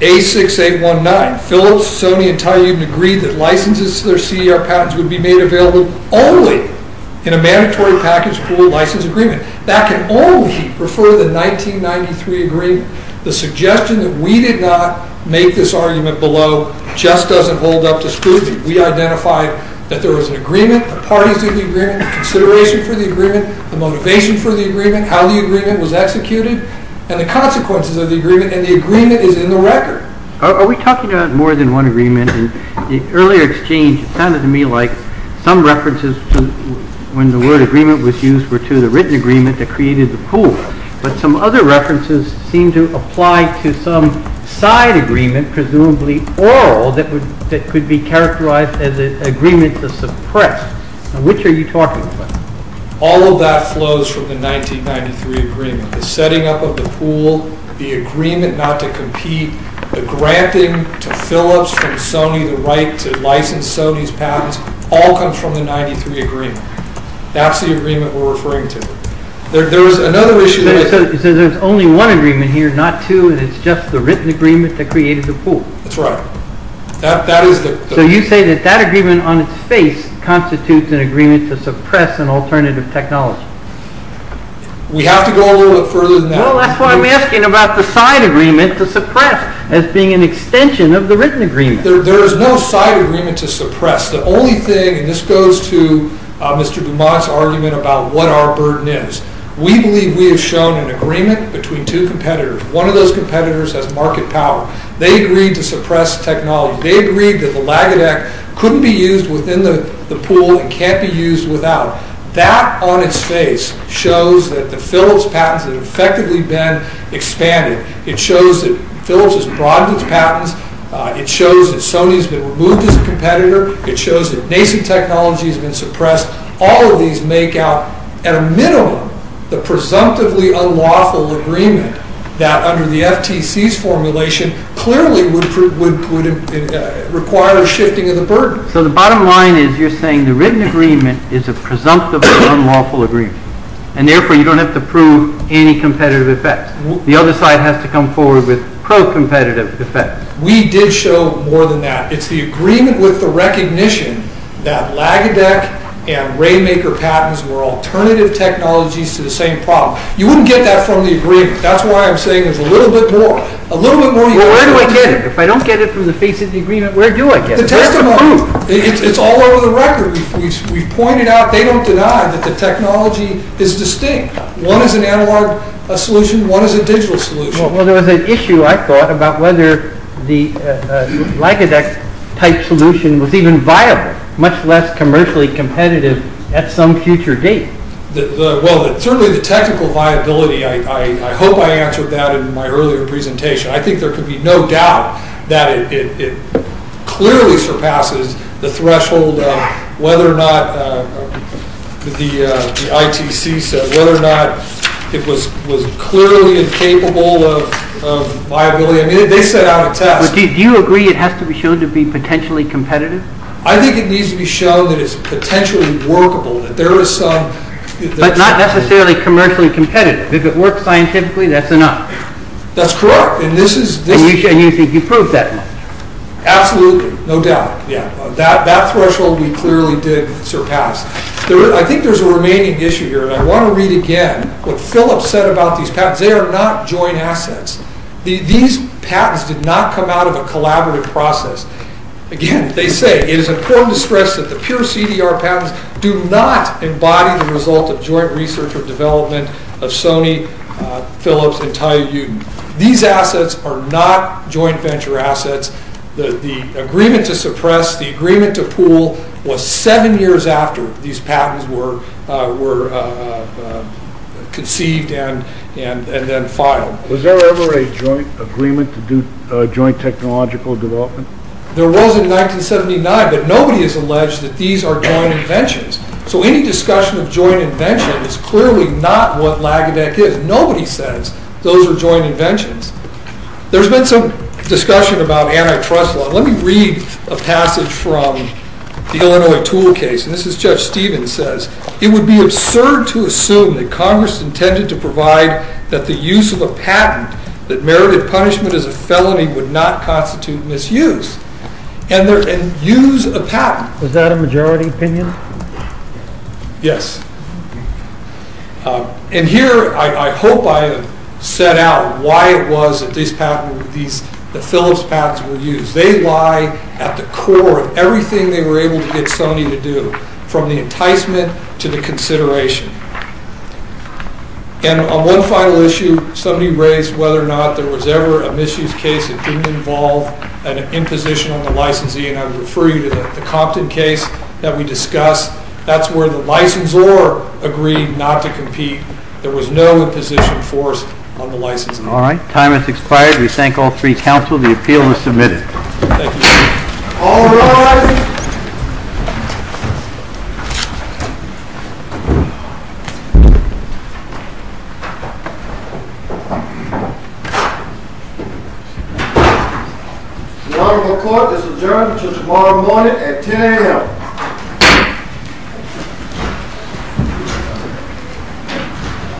A6819, Philips, Sony, and Telly Uden agreed that licenses to their CDR patents would be made available only in a mandatory package for license agreement. That can only refer to the 1993 agreement. The suggestion that we did not make this argument below just doesn't hold up to scrutiny. We identified that there was an agreement, a partisan agreement, a consideration for the agreement, a motivation for the agreement, how the agreement was executed, and the consequences of the agreement, and the agreement is in the record. Are we talking about more than one agreement? In the earlier exchange, it sounded to me like some references when the word agreement was used were to the written agreement that created the pool. But some other references seem to apply to some side agreement, and presumably all that could be characterized as an agreement to suppress. Which are you talking about? All of that flows from the 1993 agreement. The setting up of the pool, the agreement not to compete, the granting to Philips and Sony the right to license Sony's patents, all come from the 1993 agreement. That's the agreement we're referring to. There was another issue... So there's only one agreement here, not two, but it's just the written agreement that created the pool. That's right. So you say that that agreement on its face constitutes an agreement to suppress an alternative technology. We have to go a little further than that. Well, that's what I'm asking about the side agreement to suppress as being an extension of the written agreement. There is no side agreement to suppress. The only thing, and this goes to Mr. DeMock's argument about what our burden is, we believe we have shown an agreement between two competitors. One of those competitors has market power. They agreed to suppress technology. They agreed that the LATIC Act couldn't be used within the pool and can't be used without. That on its face shows that the Philips patents have effectively been expanded. It shows that Philips has broadened its patents. It shows that Sony's been removed as a competitor. It shows that nation technology has been suppressed. All of these make out a minimum of the presumptively unlawful agreement that under the FTC's formulation clearly requires shifting of the burden. So the bottom line is you're saying the written agreement is a presumptively unlawful agreement and therefore you don't have to prove any competitive effects. The other side has to come forward with pro-competitive effects. We did show more than that. It's the agreement with the recognition that LATIC and Rainmaker patents were alternative technologies to the same problem. You wouldn't get that from the agreement. That's why I'm saying there's a little bit more. Where do I get it? If I don't get it from the FTC agreement, where do I get it? It's all over the record. We've pointed out, they don't deny, that the technology is distinct. One is an analog solution, one is a digital solution. Well, there was an issue I thought about whether the LATIC-type solution was even viable, much less commercially competitive at some future date. Well, certainly the technical viability, I hope I answered that in my earlier presentation. I think there could be no doubt that it clearly surpasses the threshold of whether or not the ITC said, whether or not it was clearly incapable of viability. I mean, they said how it sounds. Do you agree it has to be shown to be potentially competitive? I think it needs to be shown that it's potentially workable, that there is some... But not necessarily commercially competitive. If it works scientifically, that's enough. That's correct, and this is... And you think you've proved that now? Absolutely, no doubt. That threshold we clearly did surpass. I think there's a remaining issue here, and I want to read again what Philip said about these patents. They are not joint assets. These patents did not come out of a collaborative process. Again, as they say, it is important to stress that the pure CDR patents do not embody the result of joint research or development of Sony, Phillips, and Tayug. These assets are not joint venture assets. The agreement to suppress, the agreement to pool was seven years after these patents were conceived and then filed. Was there ever a joint agreement to do joint technological development? There was in 1979, but nobody has alleged that these are joint inventions. So any discussion of joint invention is clearly not what LACADEC is. Nobody says those are joint inventions. There's been some discussion about antitrust law. Let me read a passage from the Illinois Tool Case, and this is Judge Stevens says, It would be absurd to assume that Congress intended to provide that the use of a patent that merited punishment as a felony would not constitute misuse. And there's a use of patents. Was that a majority opinion? Yes. And here, I hope I have set out why it was that these patents were used, the Phillips patents were used. They lie at the core of everything they were able to get Sony to do, from the enticement to the consideration. And on one final issue, somebody raised whether or not there was ever a misuse case that didn't involve an imposition on the licensee, and I would refer you to the Compton case that we discussed. That's where the licensor agreed not to compete. There was no imposition forced on the licensee. All right, time has expired. We thank all three counsel. The appeal is submitted. Thank you. All rise. Your Honor, the court has adjourned until tomorrow morning at 10 a.m.